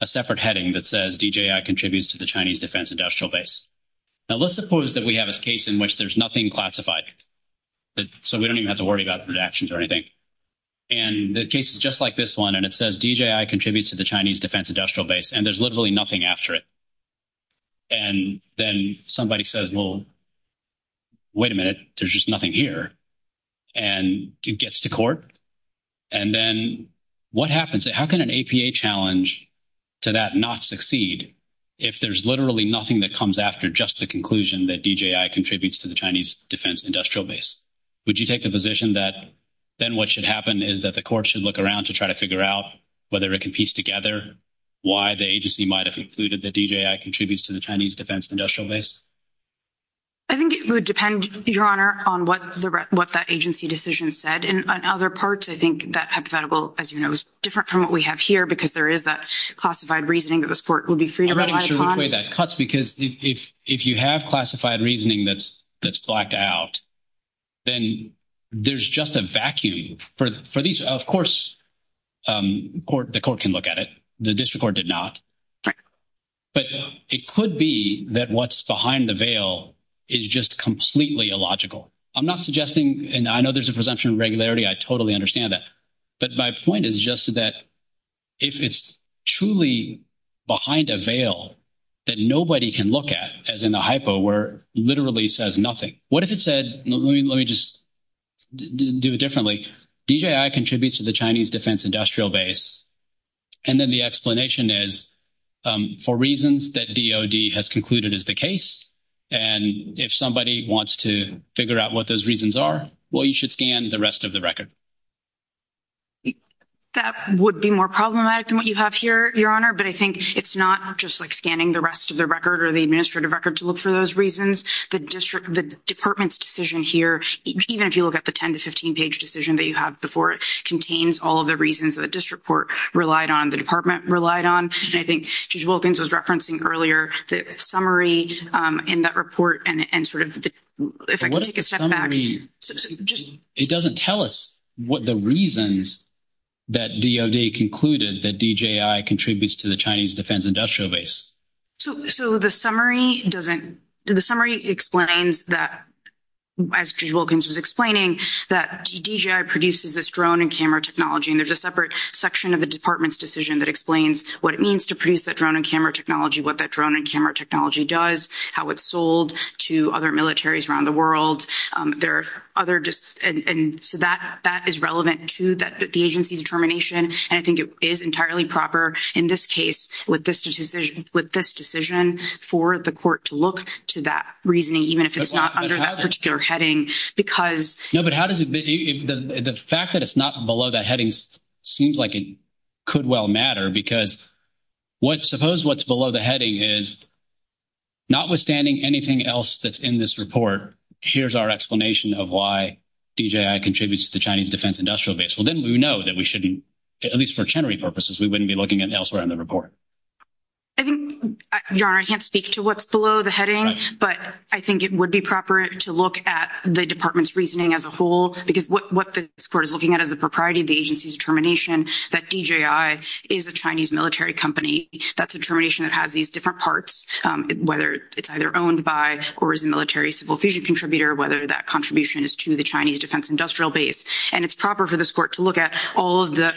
a separate heading that says DJI contributes to the Chinese defense industrial base. Now, let's suppose that we have a case in which there's nothing classified. So we don't even have to worry about redactions or anything. And the case is just like this one and it says DJI contributes to the Chinese defense industrial base and there's literally nothing after it. And then somebody says, well, wait a minute. There's just nothing here. And it gets to court. And then what happens? How can an APA challenge to that not succeed if there's literally nothing that comes after just the conclusion that DJI contributes to the Chinese defense industrial base? Would you take the position that then what should happen is that the court should look around to try to figure out whether it can piece together why the agency might have concluded that DJI contributes to the Chinese defense industrial base? I think it would depend, Your Honor, on what that agency decision said. And on other parts, I think that hypothetical, as you know, is different from what we have here because there is that classified reasoning that this court would be free to rely upon. I'm not even sure which way that cuts because if you have classified reasoning that's blacked out, then there's just a vacuum for these. Of course, the court can look at it. The district court did not. But it could be that what's behind the veil is just completely illogical. I'm not suggesting and I know there's a presumption of regularity. I totally understand that. But my point is just that if it's truly behind a veil that nobody can look at, as in the What if it said, let me just do it differently, DJI contributes to the Chinese defense industrial base, and then the explanation is for reasons that DOD has concluded is the case. And if somebody wants to figure out what those reasons are, well, you should scan the rest of the record. That would be more problematic than what you have here, Your Honor. But I think it's not just like scanning the rest of the record or the administrative record to look for those reasons. The district, the department's decision here, even if you look at the 10 to 15 page decision that you have before, it contains all of the reasons that the district court relied on, the department relied on. I think Judge Wilkins was referencing earlier the summary in that report and sort of if I can take a step back. It doesn't tell us what the reasons that DOD concluded that DJI contributes to the Chinese defense industrial base. So the summary explains that, as Judge Wilkins was explaining, that DJI produces this drone and camera technology. And there's a separate section of the department's decision that explains what it means to produce that drone and camera technology, what that drone and camera technology does, how it's sold to other militaries around the world. And so that is relevant to the agency's determination. And I think it is entirely proper, in this case, with this decision for the court to look to that reasoning, even if it's not under that particular heading. No, but the fact that it's not below that heading seems like it could well matter. Because suppose what's below the heading is notwithstanding anything else that's in this report, here's our explanation of why DJI contributes to the Chinese defense industrial base. Well, then we know that we shouldn't, at least for chenary purposes, we wouldn't be looking at elsewhere in the report. I think, Your Honor, I can't speak to what's below the heading, but I think it would be proper to look at the department's reasoning as a whole, because what this court is looking at is the propriety of the agency's determination that DJI is a Chinese military company. That's a determination that has these different parts, whether it's either owned by or is a military civil fission contributor, whether that contribution is to the Chinese defense industrial base. And it's proper for this court to look at all of the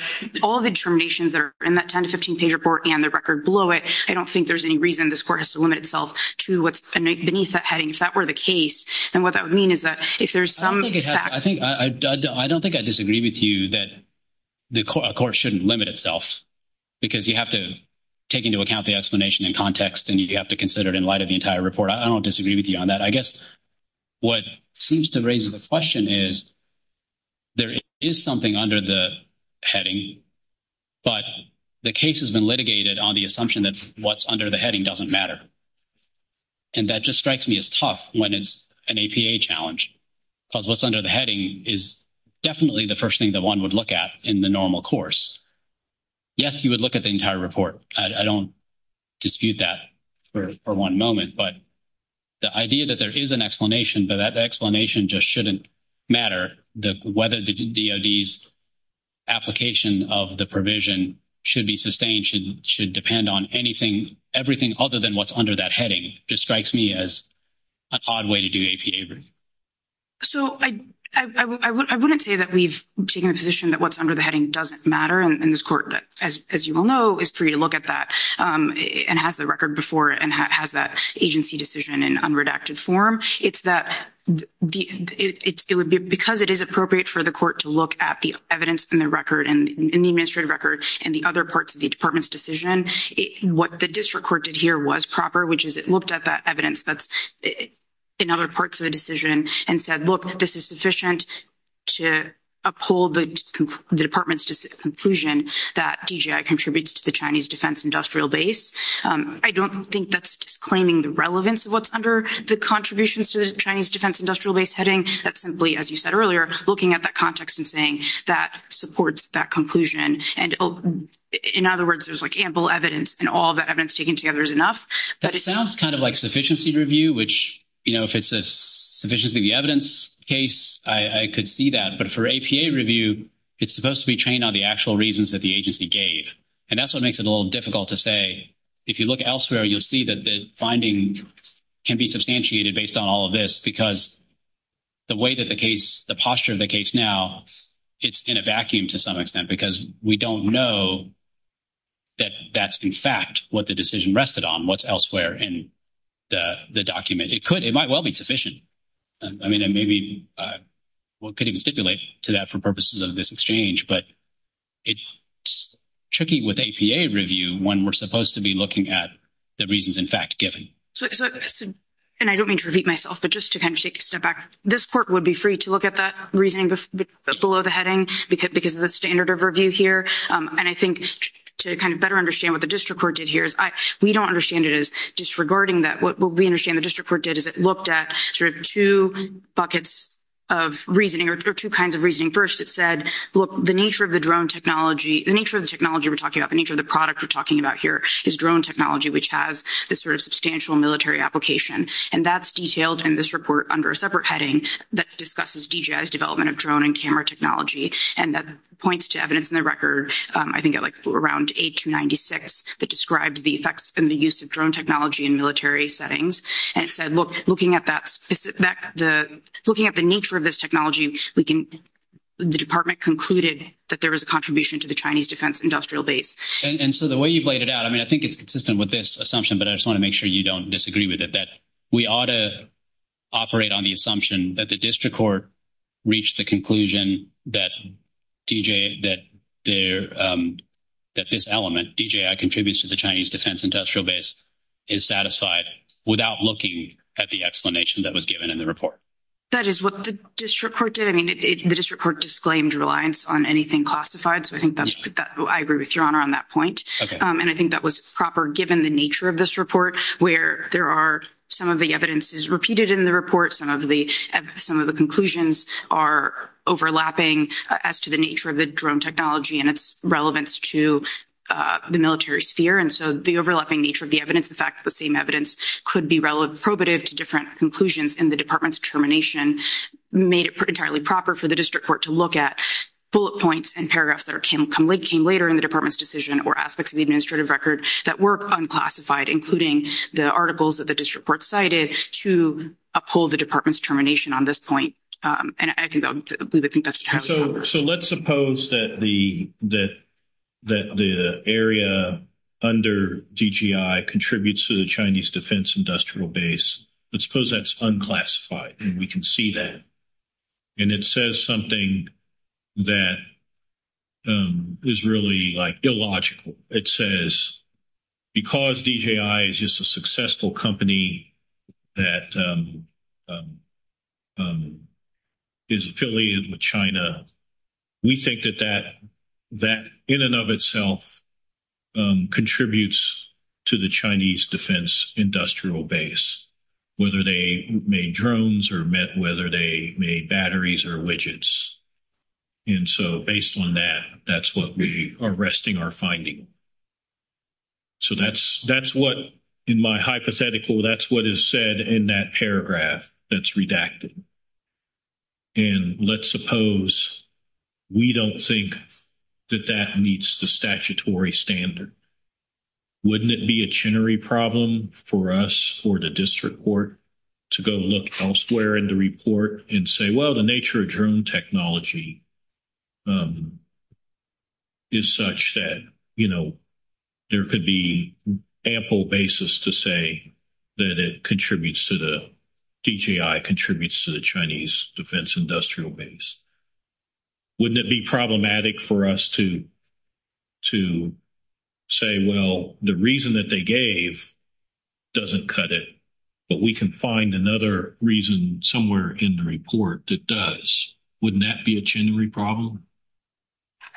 determinations that are in that 10 to 15-page report and the record below it. I don't think there's any reason this court has to limit itself to what's beneath that heading. If that were the case, then what that would mean is that if there's some fact— I don't think I disagree with you that a court shouldn't limit itself, because you have to take into account the explanation in context, and you have to consider it in light of the entire report. I don't disagree with you on that. I guess what seems to raise the question is there is something under the heading, but the case has been litigated on the assumption that what's under the heading doesn't matter. And that just strikes me as tough when it's an APA challenge, because what's under the heading is definitely the first thing that one would look at in the normal course. Yes, you would look at the entire report. I don't dispute that for one moment, but the idea that there is an explanation, but that explanation just shouldn't matter, whether the DOD's application of the provision should be sustained, should depend on anything, everything other than what's under that heading, just strikes me as an odd way to do APA review. So I wouldn't say that we've taken a position that what's under the heading doesn't matter, and this court, as you all know, is free to look at that and has the record before and has that agency decision in unredacted form. It's that because it is appropriate for the court to look at the evidence in the record, in the administrative record, and the other parts of the department's decision, what the district court did here was proper, which is it looked at that evidence that's in other sufficient to uphold the department's conclusion that DGI contributes to the Chinese defense industrial base. I don't think that's disclaiming the relevance of what's under the contributions to the Chinese defense industrial base heading. That's simply, as you said earlier, looking at that context and saying that supports that And in other words, there's like ample evidence and all that evidence taken together is enough. That sounds kind of like sufficiency review, which, you know, if it's a sufficiency of the evidence case, I could see that. But for APA review, it's supposed to be trained on the actual reasons that the agency gave. And that's what makes it a little difficult to say. If you look elsewhere, you'll see that the findings can be substantiated based on all of this because the way that the case, the posture of the case now, it's in a vacuum to some extent because we don't know that that's, in fact, what the decision rested on, what's elsewhere in the document. It might well be sufficient. I mean, maybe we could even stipulate to that for purposes of this exchange. But it's tricky with APA review when we're supposed to be looking at the reasons, in fact, given. And I don't mean to repeat myself, but just to kind of take a step back, this court would be free to look at that reasoning below the heading because of the standard of review here. And I think to kind of better understand what the district court did here is we don't understand it as disregarding that. What we understand the district court did is it looked at sort of two buckets of reasoning or two kinds of reasoning. First, it said, look, the nature of the drone technology, the nature of the technology we're talking about, the nature of the product we're talking about here is drone technology, which has this sort of substantial military application. And that's detailed in this report under a separate heading that discusses DJI's development of drone and camera technology. And that points to evidence in the record, I think at like around 8 to 96, that describes the effects and the use of drone technology in military settings. And it said, look, looking at the nature of this technology, the department concluded that there was a contribution to the Chinese defense industrial base. And so the way you've laid it out, I mean, I think it's consistent with this assumption, but I just want to make sure you don't disagree with it, that we ought to operate on the assumption that the district court reached the conclusion that DJI contributes to the Chinese defense industrial base is satisfied without looking at the explanation that was given in the report. That is what the district court did. I mean, the district court disclaimed reliance on anything classified. So I think that's, I agree with your honor on that point. And I think that was proper given the nature of this report, where there are some of the evidences repeated in the report, some of the conclusions are overlapping as to the nature of the drone technology and its relevance to the military sphere. And so the overlapping nature of the evidence, the fact that the same evidence could be probative to different conclusions in the department's determination made it entirely proper for the district court to look at bullet points and paragraphs that came later in the department's decision or aspects of the administrative record that were unclassified, including the articles that the district court cited to uphold the department's determination on this point. And I think that's what happened. So let's suppose that the area under DGI contributes to the Chinese defense industrial base. Let's suppose that's unclassified and we can see that. And it says something that is really like illogical. It says, because DGI is just a successful company that is affiliated with China, we think that that in and of itself contributes to the Chinese defense industrial base, whether they made drones or whether they made batteries or widgets. And so based on that, that's what we are arresting our finding. So that's what, in my hypothetical, that's what is said in that paragraph that's redacted. And let's suppose we don't think that that meets the statutory standard. Wouldn't it be a chinnery problem for us or the district court to go look elsewhere in the report and say, well, the nature of drone technology is such that, you know, there could be ample basis to say that it contributes to the DGI, contributes to the Chinese defense industrial base. Wouldn't it be problematic for us to say, well, the reason that they gave doesn't cut it, but we can find another reason somewhere in the report that does? Wouldn't that be a chinnery problem?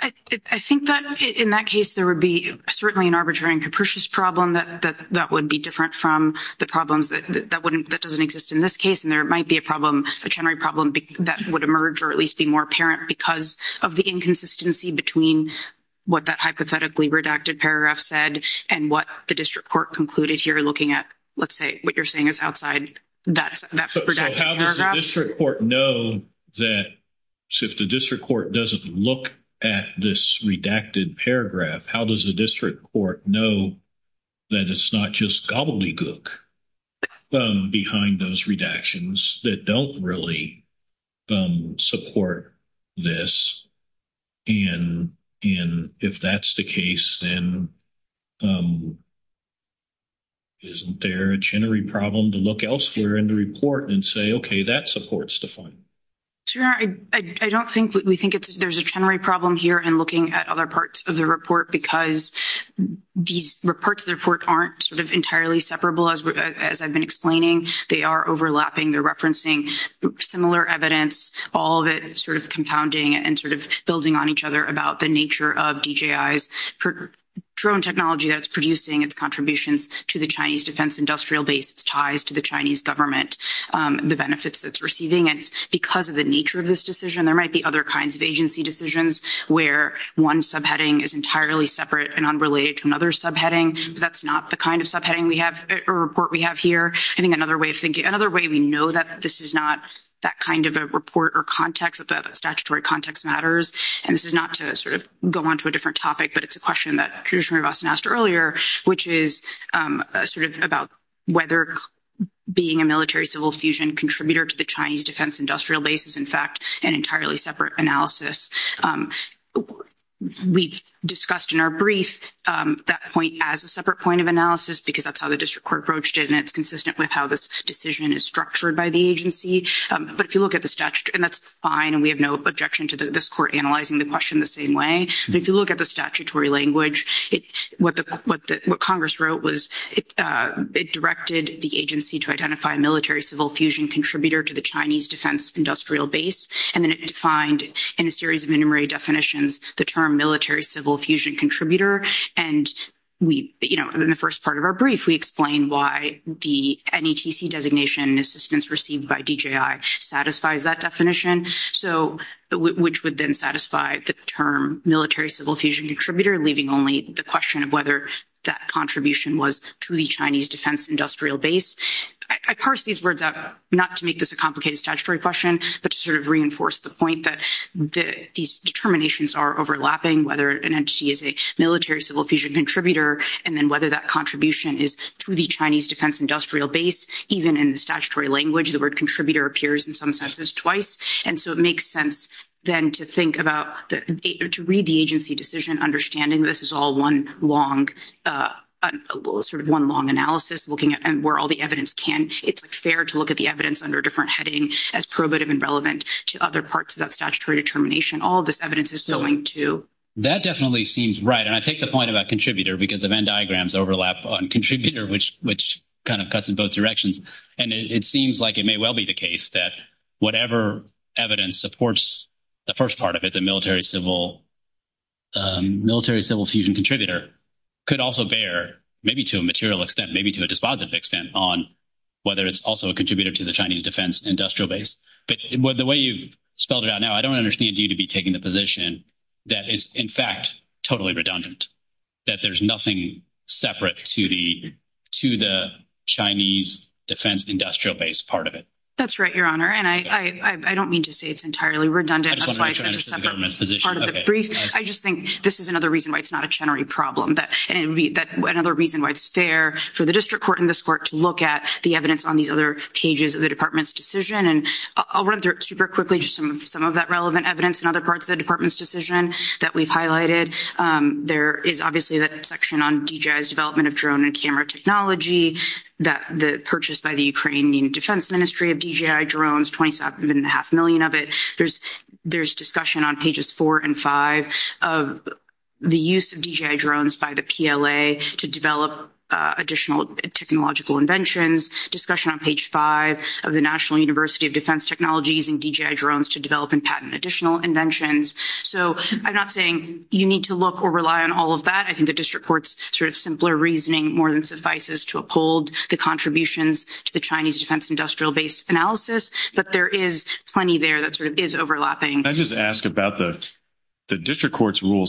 I think that in that case, there would be certainly an arbitrary and capricious problem that would be different from the problems that wouldn't, that doesn't exist in this case. And there might be a problem, a chinnery problem that would emerge or at least be more apparent because of the inconsistency between what that hypothetically redacted paragraph said and what the district court concluded here looking at, let's say, what you're saying is outside that redacted paragraph. So how does the district court know that if the district court doesn't look at this redacted paragraph, how does the district court know that it's not just gobbledygook behind those redactions that don't really support this? And if that's the case, then isn't there a chinnery problem to look elsewhere in the report and say, okay, that supports the finding? Sure. I don't think, we think there's a chinnery problem here in looking at other parts of the report because these parts of the report aren't sort of entirely separable as I've been explaining. They are overlapping. They're referencing similar evidence, all of it sort of compounding and sort of building on each other about the nature of DJI's drone technology that's producing its contributions to the Chinese defense industrial base, its ties to the Chinese government, the benefits that it's receiving. It's because of the nature of this decision. There might be other kinds of agency decisions where one subheading is entirely separate and unrelated to another subheading. That's not the kind of subheading we have or report we have here. I think another way of thinking, another way we know that this is not that kind of a report or context, that the statutory context matters, and this is not to sort of go on to a different topic, but it's a question that Commissioner Rivasan asked earlier, which is sort of about whether being a military-civil fusion contributor to the Chinese defense industrial base is, in fact, an entirely separate analysis. We've discussed in our brief that point as a separate point of analysis because that's how the district court approached it, and it's consistent with how this decision is structured by the agency. But if you look at the statute, and that's fine, and we have no objection to this court analyzing the question the same way, but if you look at the statutory language, what Congress wrote was it directed the agency to identify a military-civil fusion contributor to the Chinese defense industrial base, and then it defined in a series of enumerated definitions the term military-civil fusion contributor. And in the first part of our brief, we explain why the NETC designation assistance received by DJI satisfies that definition, which would then satisfy the term military-civil fusion contributor, leaving only the question of whether that contribution was to the Chinese defense industrial base. I parse these words out not to make this a complicated statutory question, but to sort of reinforce the point that these determinations are overlapping, whether an entity is a military-civil fusion contributor, and then whether that contribution is to the Chinese defense industrial base. Even in the statutory language, the word contributor appears in some senses twice, and so it makes sense, then, to read the agency decision understanding this is all one long analysis looking at where all the evidence can. It's fair to look at the evidence under a different heading as probative and relevant to other parts of that statutory determination. All of this evidence is going to... That definitely seems right, and I take the point about contributor because the Venn diagrams overlap on contributor, which kind of cuts in both directions. And it seems like it may well be the case that whatever evidence supports the first part of it, the military-civil fusion contributor could also bear, maybe to a material extent, maybe to a dispositive extent, on whether it's also a contributor to the Chinese defense industrial base. But the way you've spelled it out now, I don't understand you to be taking the position that it's, in fact, totally redundant, that there's nothing separate to the Chinese defense industrial base part of it. That's right, Your Honor, and I don't mean to say it's entirely redundant. I just want to reach out to the government's position. I just think this is another reason why it's not a Chenery problem, that another reason why it's fair for the district court and this court to look at the evidence on these other pages of the department's decision. And I'll run through it super quickly, just some of that relevant evidence in other parts of the department's decision that we've highlighted. There is obviously that section on DJI's development of drone and camera technology, the purchase by the Ukrainian Defense Ministry of DJI drones, 27.5 million of it. There's discussion on pages four and five of the use of DJI drones by the PLA to develop additional technological inventions, discussion on page five of the National University of using DJI drones to develop and patent additional inventions. So, I'm not saying you need to look or rely on all of that. I think the district court's sort of simpler reasoning more than suffices to uphold the contributions to the Chinese defense industrial base analysis, but there is plenty there that sort of is overlapping. Can I just ask about the district court's rule,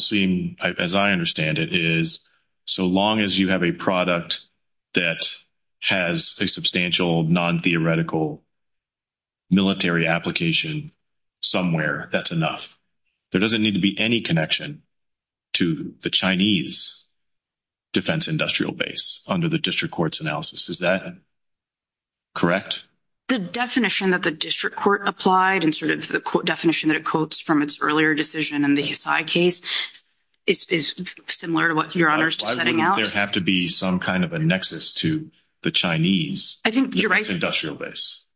as I understand it, is so long as you a product that has a substantial non-theoretical military application somewhere, that's enough. There doesn't need to be any connection to the Chinese defense industrial base under the district court's analysis. Is that correct? The definition that the district court applied and sort of the definition that it quotes from its earlier decision in the Hisai case is similar to what Your Honor is setting out. There have to be some kind of a nexus to the Chinese industrial base.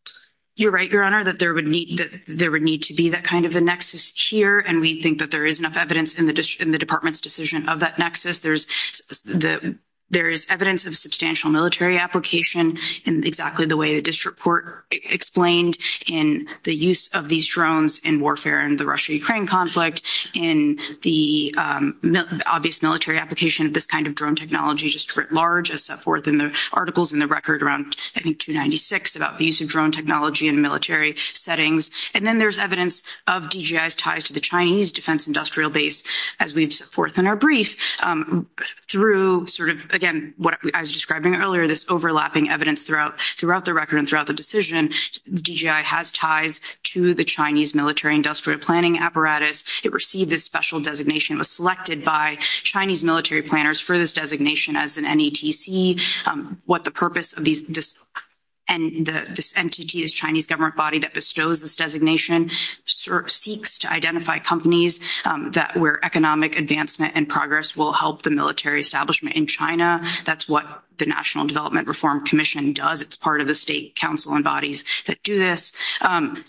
You're right, Your Honor, that there would need to be that kind of a nexus here, and we think that there is enough evidence in the department's decision of that nexus. There is evidence of substantial military application in exactly the way the district court explained in the use of these drones in warfare in the Russia-Ukraine conflict, in the obvious military application of this kind of drone technology, just writ large, as set forth in the articles in the record around, I think, 296, about the use of drone technology in military settings. And then there's evidence of DGI's ties to the Chinese defense industrial base, as we've set forth in our brief, through sort of, again, what I was describing earlier, this overlapping evidence throughout the record and throughout the decision. DGI has ties to the Chinese military industrial planning apparatus. It received this special designation. It was selected by Chinese military planners for this designation as an NETC. What the purpose of this entity, this Chinese government body that bestows this designation, seeks to identify companies where economic advancement and progress will help the military establishment in China. That's what the National Development Reform Commission does. It's part of the state council and bodies that do this.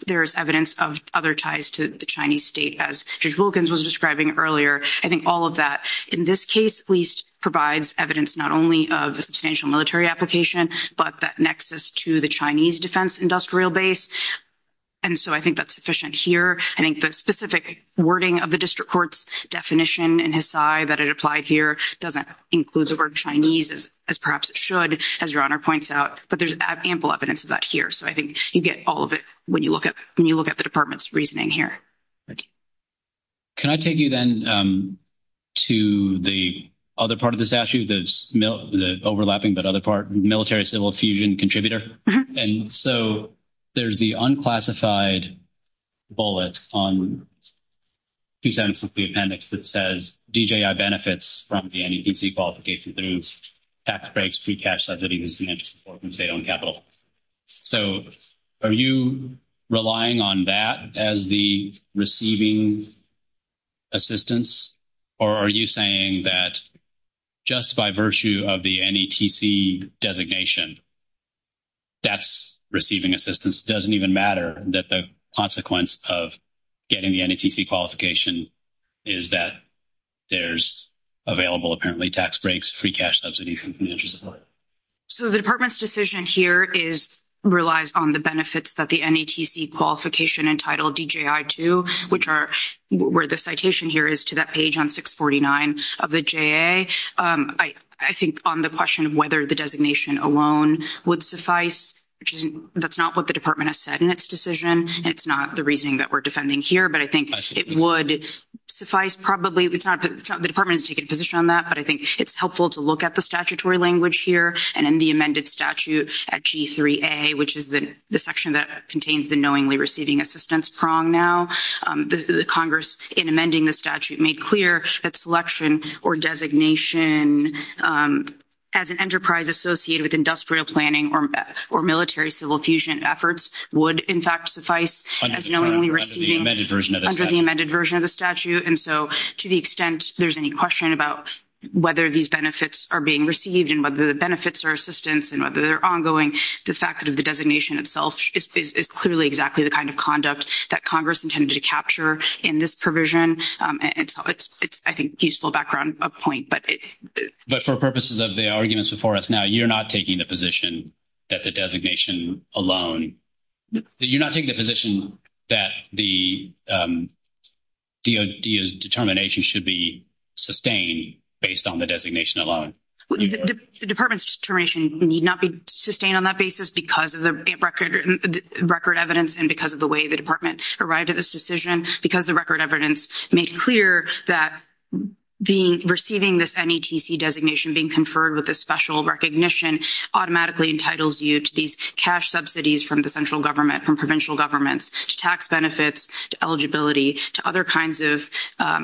There's evidence of other ties to the Chinese state, as Judge Wilkins was describing earlier. I think all of that, in this case, at least, provides evidence not only of a substantial military application, but that nexus to the Chinese defense industrial base. And so I think that's sufficient here. I think the specific wording of the district court's definition in Hisai that it applied here doesn't include the word Chinese, as perhaps it should, as Your Honor points out. But there's ample evidence of that here. So I think you get all of it when you look at the department's reasoning here. Can I take you then to the other part of the statute, the overlapping but other part, military-civil fusion contributor? So there's the unclassified bullet on 276B Appendix that says DJI benefits from the NETC qualification through tax breaks, pre-cash subsidies, and interest for state-owned capital. So are you relying on that as the receiving assistance, or are you saying that just by virtue of the NETC designation, that's receiving assistance? It doesn't even matter that the consequence of getting the NETC qualification is that there's available, apparently, tax breaks, free cash subsidies, and interest for it. So the department's decision here relies on the benefits that the NETC qualification entitled DJI to, which are where the citation here is to that page on 649 of the JA. I think on the question of whether the designation alone would suffice, that's not what the department has said in its decision. It's not the reasoning that we're defending here. But I think it would suffice probably. The department has taken a position on that, but I think it's helpful to look at the statutory language here and in the amended statute at G3A, which is the section that contains the knowingly receiving assistance prong now. The Congress, in amending the statute, made clear that selection or designation as an enterprise associated with industrial planning or military-civil fusion efforts would, in fact, suffice as knowingly receiving under the amended version of the statute. And so to the extent there's any question about whether these benefits are being received and whether the benefits are assistance and whether they're ongoing, the fact that the designation itself is clearly exactly the kind of conduct that Congress intended to capture in this provision, it's, I think, a useful background point. But for purposes of the arguments before us now, you're not taking the position that the designation alone, you're not taking the position that the DOD's determination should be sustained based on the designation alone? The department's determination need not be sustained on that basis because of the record evidence and because of the way the department arrived at this decision, because the record evidence made clear that receiving this NETC designation, being conferred with a special recognition automatically entitles you to these cash subsidies from the central government, from provincial governments, to tax benefits, to eligibility, to other kinds of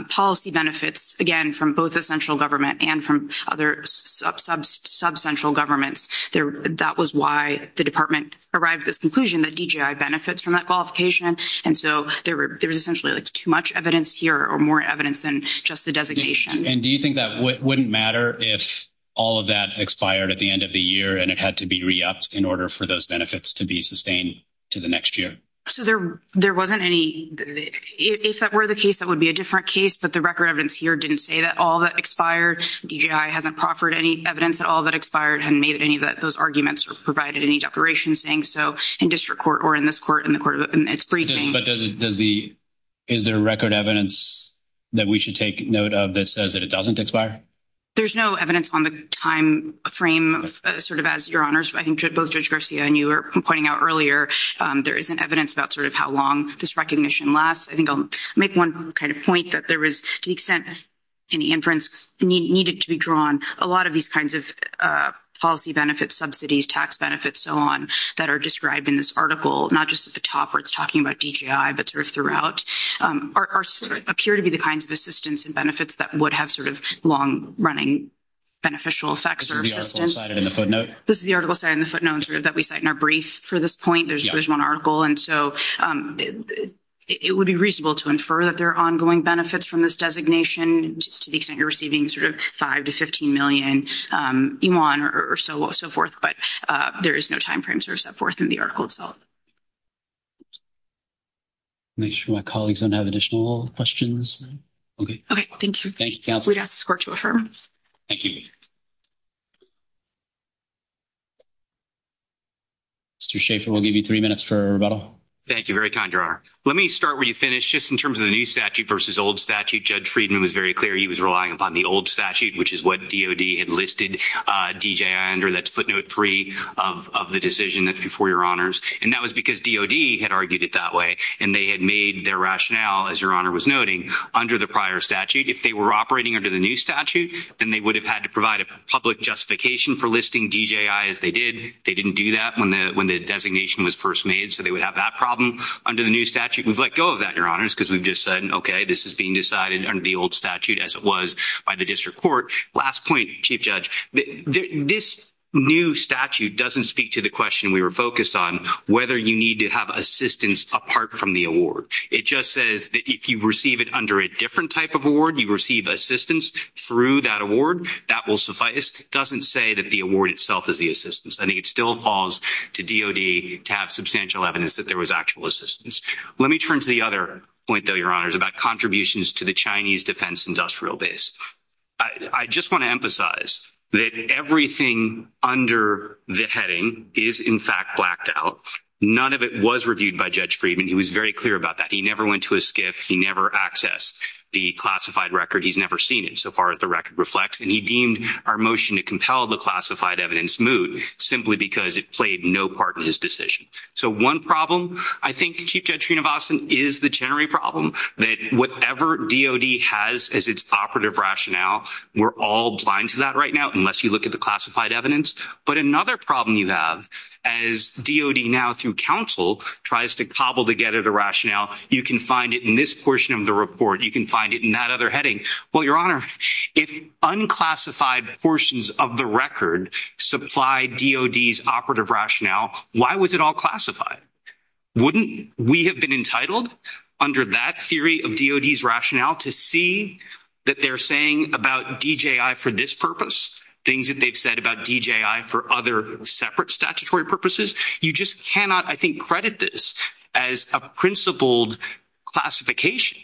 policy benefits, again, from both the central government and from other sub-central governments. That was why the department arrived at this conclusion that DGI benefits from that qualification. And so there's essentially too much evidence here or more evidence than just the designation. And do you think that wouldn't matter if all of that expired at the end of the year and it had to be re-upped in order for those benefits to be sustained to the next year? So there wasn't any—if that were the case, that would be a different case, but the record evidence here didn't say that all that expired. DGI hasn't proffered any evidence that all that expired, hadn't made any of those arguments or provided any declaration saying so in district court or in this court, in the court of—it's briefings. But does the—is there record evidence that we should take note of that says that it doesn't expire? There's no evidence on the time frame, sort of as Your Honors, I think both Judge Garcia and you were pointing out earlier, there isn't evidence about sort of how long this recognition lasts. I think I'll make one kind of point that there was, to the extent any inference needed to be drawn, a lot of these kinds of policy benefits, subsidies, tax benefits, so on, that are described in this article, not just at the top where it's talking about DGI, but sort of throughout, are—appear to be the kinds of assistance and benefits that would have sort of long-running beneficial effects or assistance. Is the article cited in the footnote? This is the article cited in the footnote that we cite in our brief for this point. Yeah. There's one article. And so it would be reasonable to infer that there are ongoing benefits from this designation to the extent you're receiving sort of $5 million to $15 million or so forth. But there is no time frame sort of set forth in the article itself. Make sure my colleagues don't have additional questions. Okay. Thank you. Thank you, counsel. We'd ask this court to affirm. Thank you. Mr. Schaffer, we'll give you three minutes for rebuttal. Thank you. Very kind, Your Honor. Let me start where you finished. Just in terms of the new statute versus old statute, Judge Friedman was very clear. He was relying upon the old statute, which is what DOD had listed DGI under. That's footnote three of the decision that's before Your Honors. And that was because DOD had argued it that way. And they had made their rationale, as Your Honor was noting, under the prior statute. If they were operating under the new statute, then they would have had to put provide a public justification for listing DGI as they did. They didn't do that when the designation was first made. So they would have that problem under the new statute. We've let go of that, Your Honors, because we've just said, okay, this is being decided under the old statute as it was by the district court. Last point, Chief Judge. This new statute doesn't speak to the question we were focused on, whether you need to have assistance apart from the award. It just says that if you receive it under a different type of award, you receive assistance through that award. That will suffice. It doesn't say that the award itself is the assistance. I think it still falls to DOD to have substantial evidence that there was actual assistance. Let me turn to the other point, though, Your Honors, about contributions to the Chinese Defense Industrial Base. I just want to emphasize that everything under the heading is, in fact, blacked out. None of it was reviewed by Judge Friedman. He was very clear about that. He never went to a SCIF. He never accessed the classified record. He's never seen it, so far as the record reflects. And he deemed our motion to compel the classified evidence moot, simply because it played no part in his decision. So one problem, I think, Chief Judge Srinivasan, is the generic problem that whatever DOD has as its operative rationale, we're all blind to that right now, unless you look at the classified evidence. But another problem you have, as DOD now, through counsel, tries to cobble together the rationale, you can find it in this portion of the report. You can find it in that other heading. Well, Your Honor, if unclassified portions of the record supply DOD's operative rationale, why was it all classified? Wouldn't we have been entitled, under that theory of DOD's rationale, to see that they're saying about DJI for this purpose, things that they've said about DJI for other separate statutory purposes? You just cannot, I think, credit this as a principled classification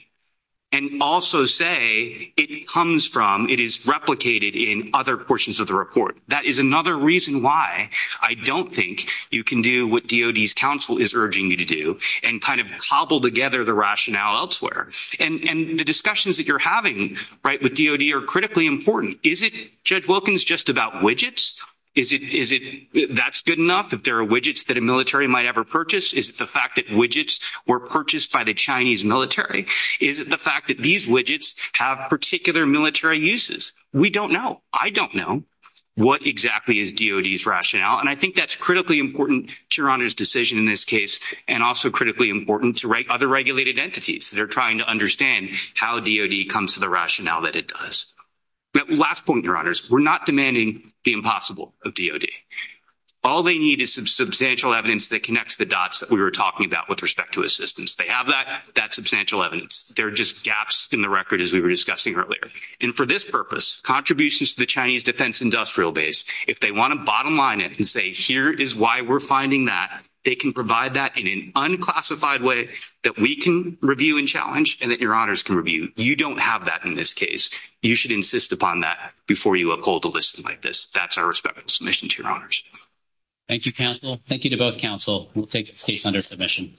and also say it comes from, it is replicated in other portions of the report. That is another reason why I don't think you can do what DOD's counsel is urging you to do and kind of cobble together the rationale elsewhere. And the discussions that you're having with DOD are critically important. Is it, Judge Wilkins, just about widgets? Is it, that's good enough? If there are widgets that a military might ever purchase, is it the fact that widgets were purchased by the Chinese military? Is it the fact that these widgets have particular military uses? We don't know. I don't know. What exactly is DOD's rationale? And I think that's critically important to Your Honor's decision in this case and also critically important to other regulated entities that are trying to understand how DOD comes to the rationale that it does. Last point, Your Honors. We're not demanding the impossible of DOD. All they need is some substantial evidence that connects the dots that we were talking about with respect to assistance. They have that substantial evidence. There are just gaps in the record, as we were discussing earlier. And for this purpose, contributions to the Chinese defense industrial base, if they want to bottom line it and say, here is why we're finding that, they can provide that in an unclassified way that we can review and challenge and that Your Honors can review. You don't have that in this case. You should insist upon that before you uphold a listing like this. That's our respectful submission to Your Honors. Thank you, counsel. Thank you to both counsel. We'll take this case under submission.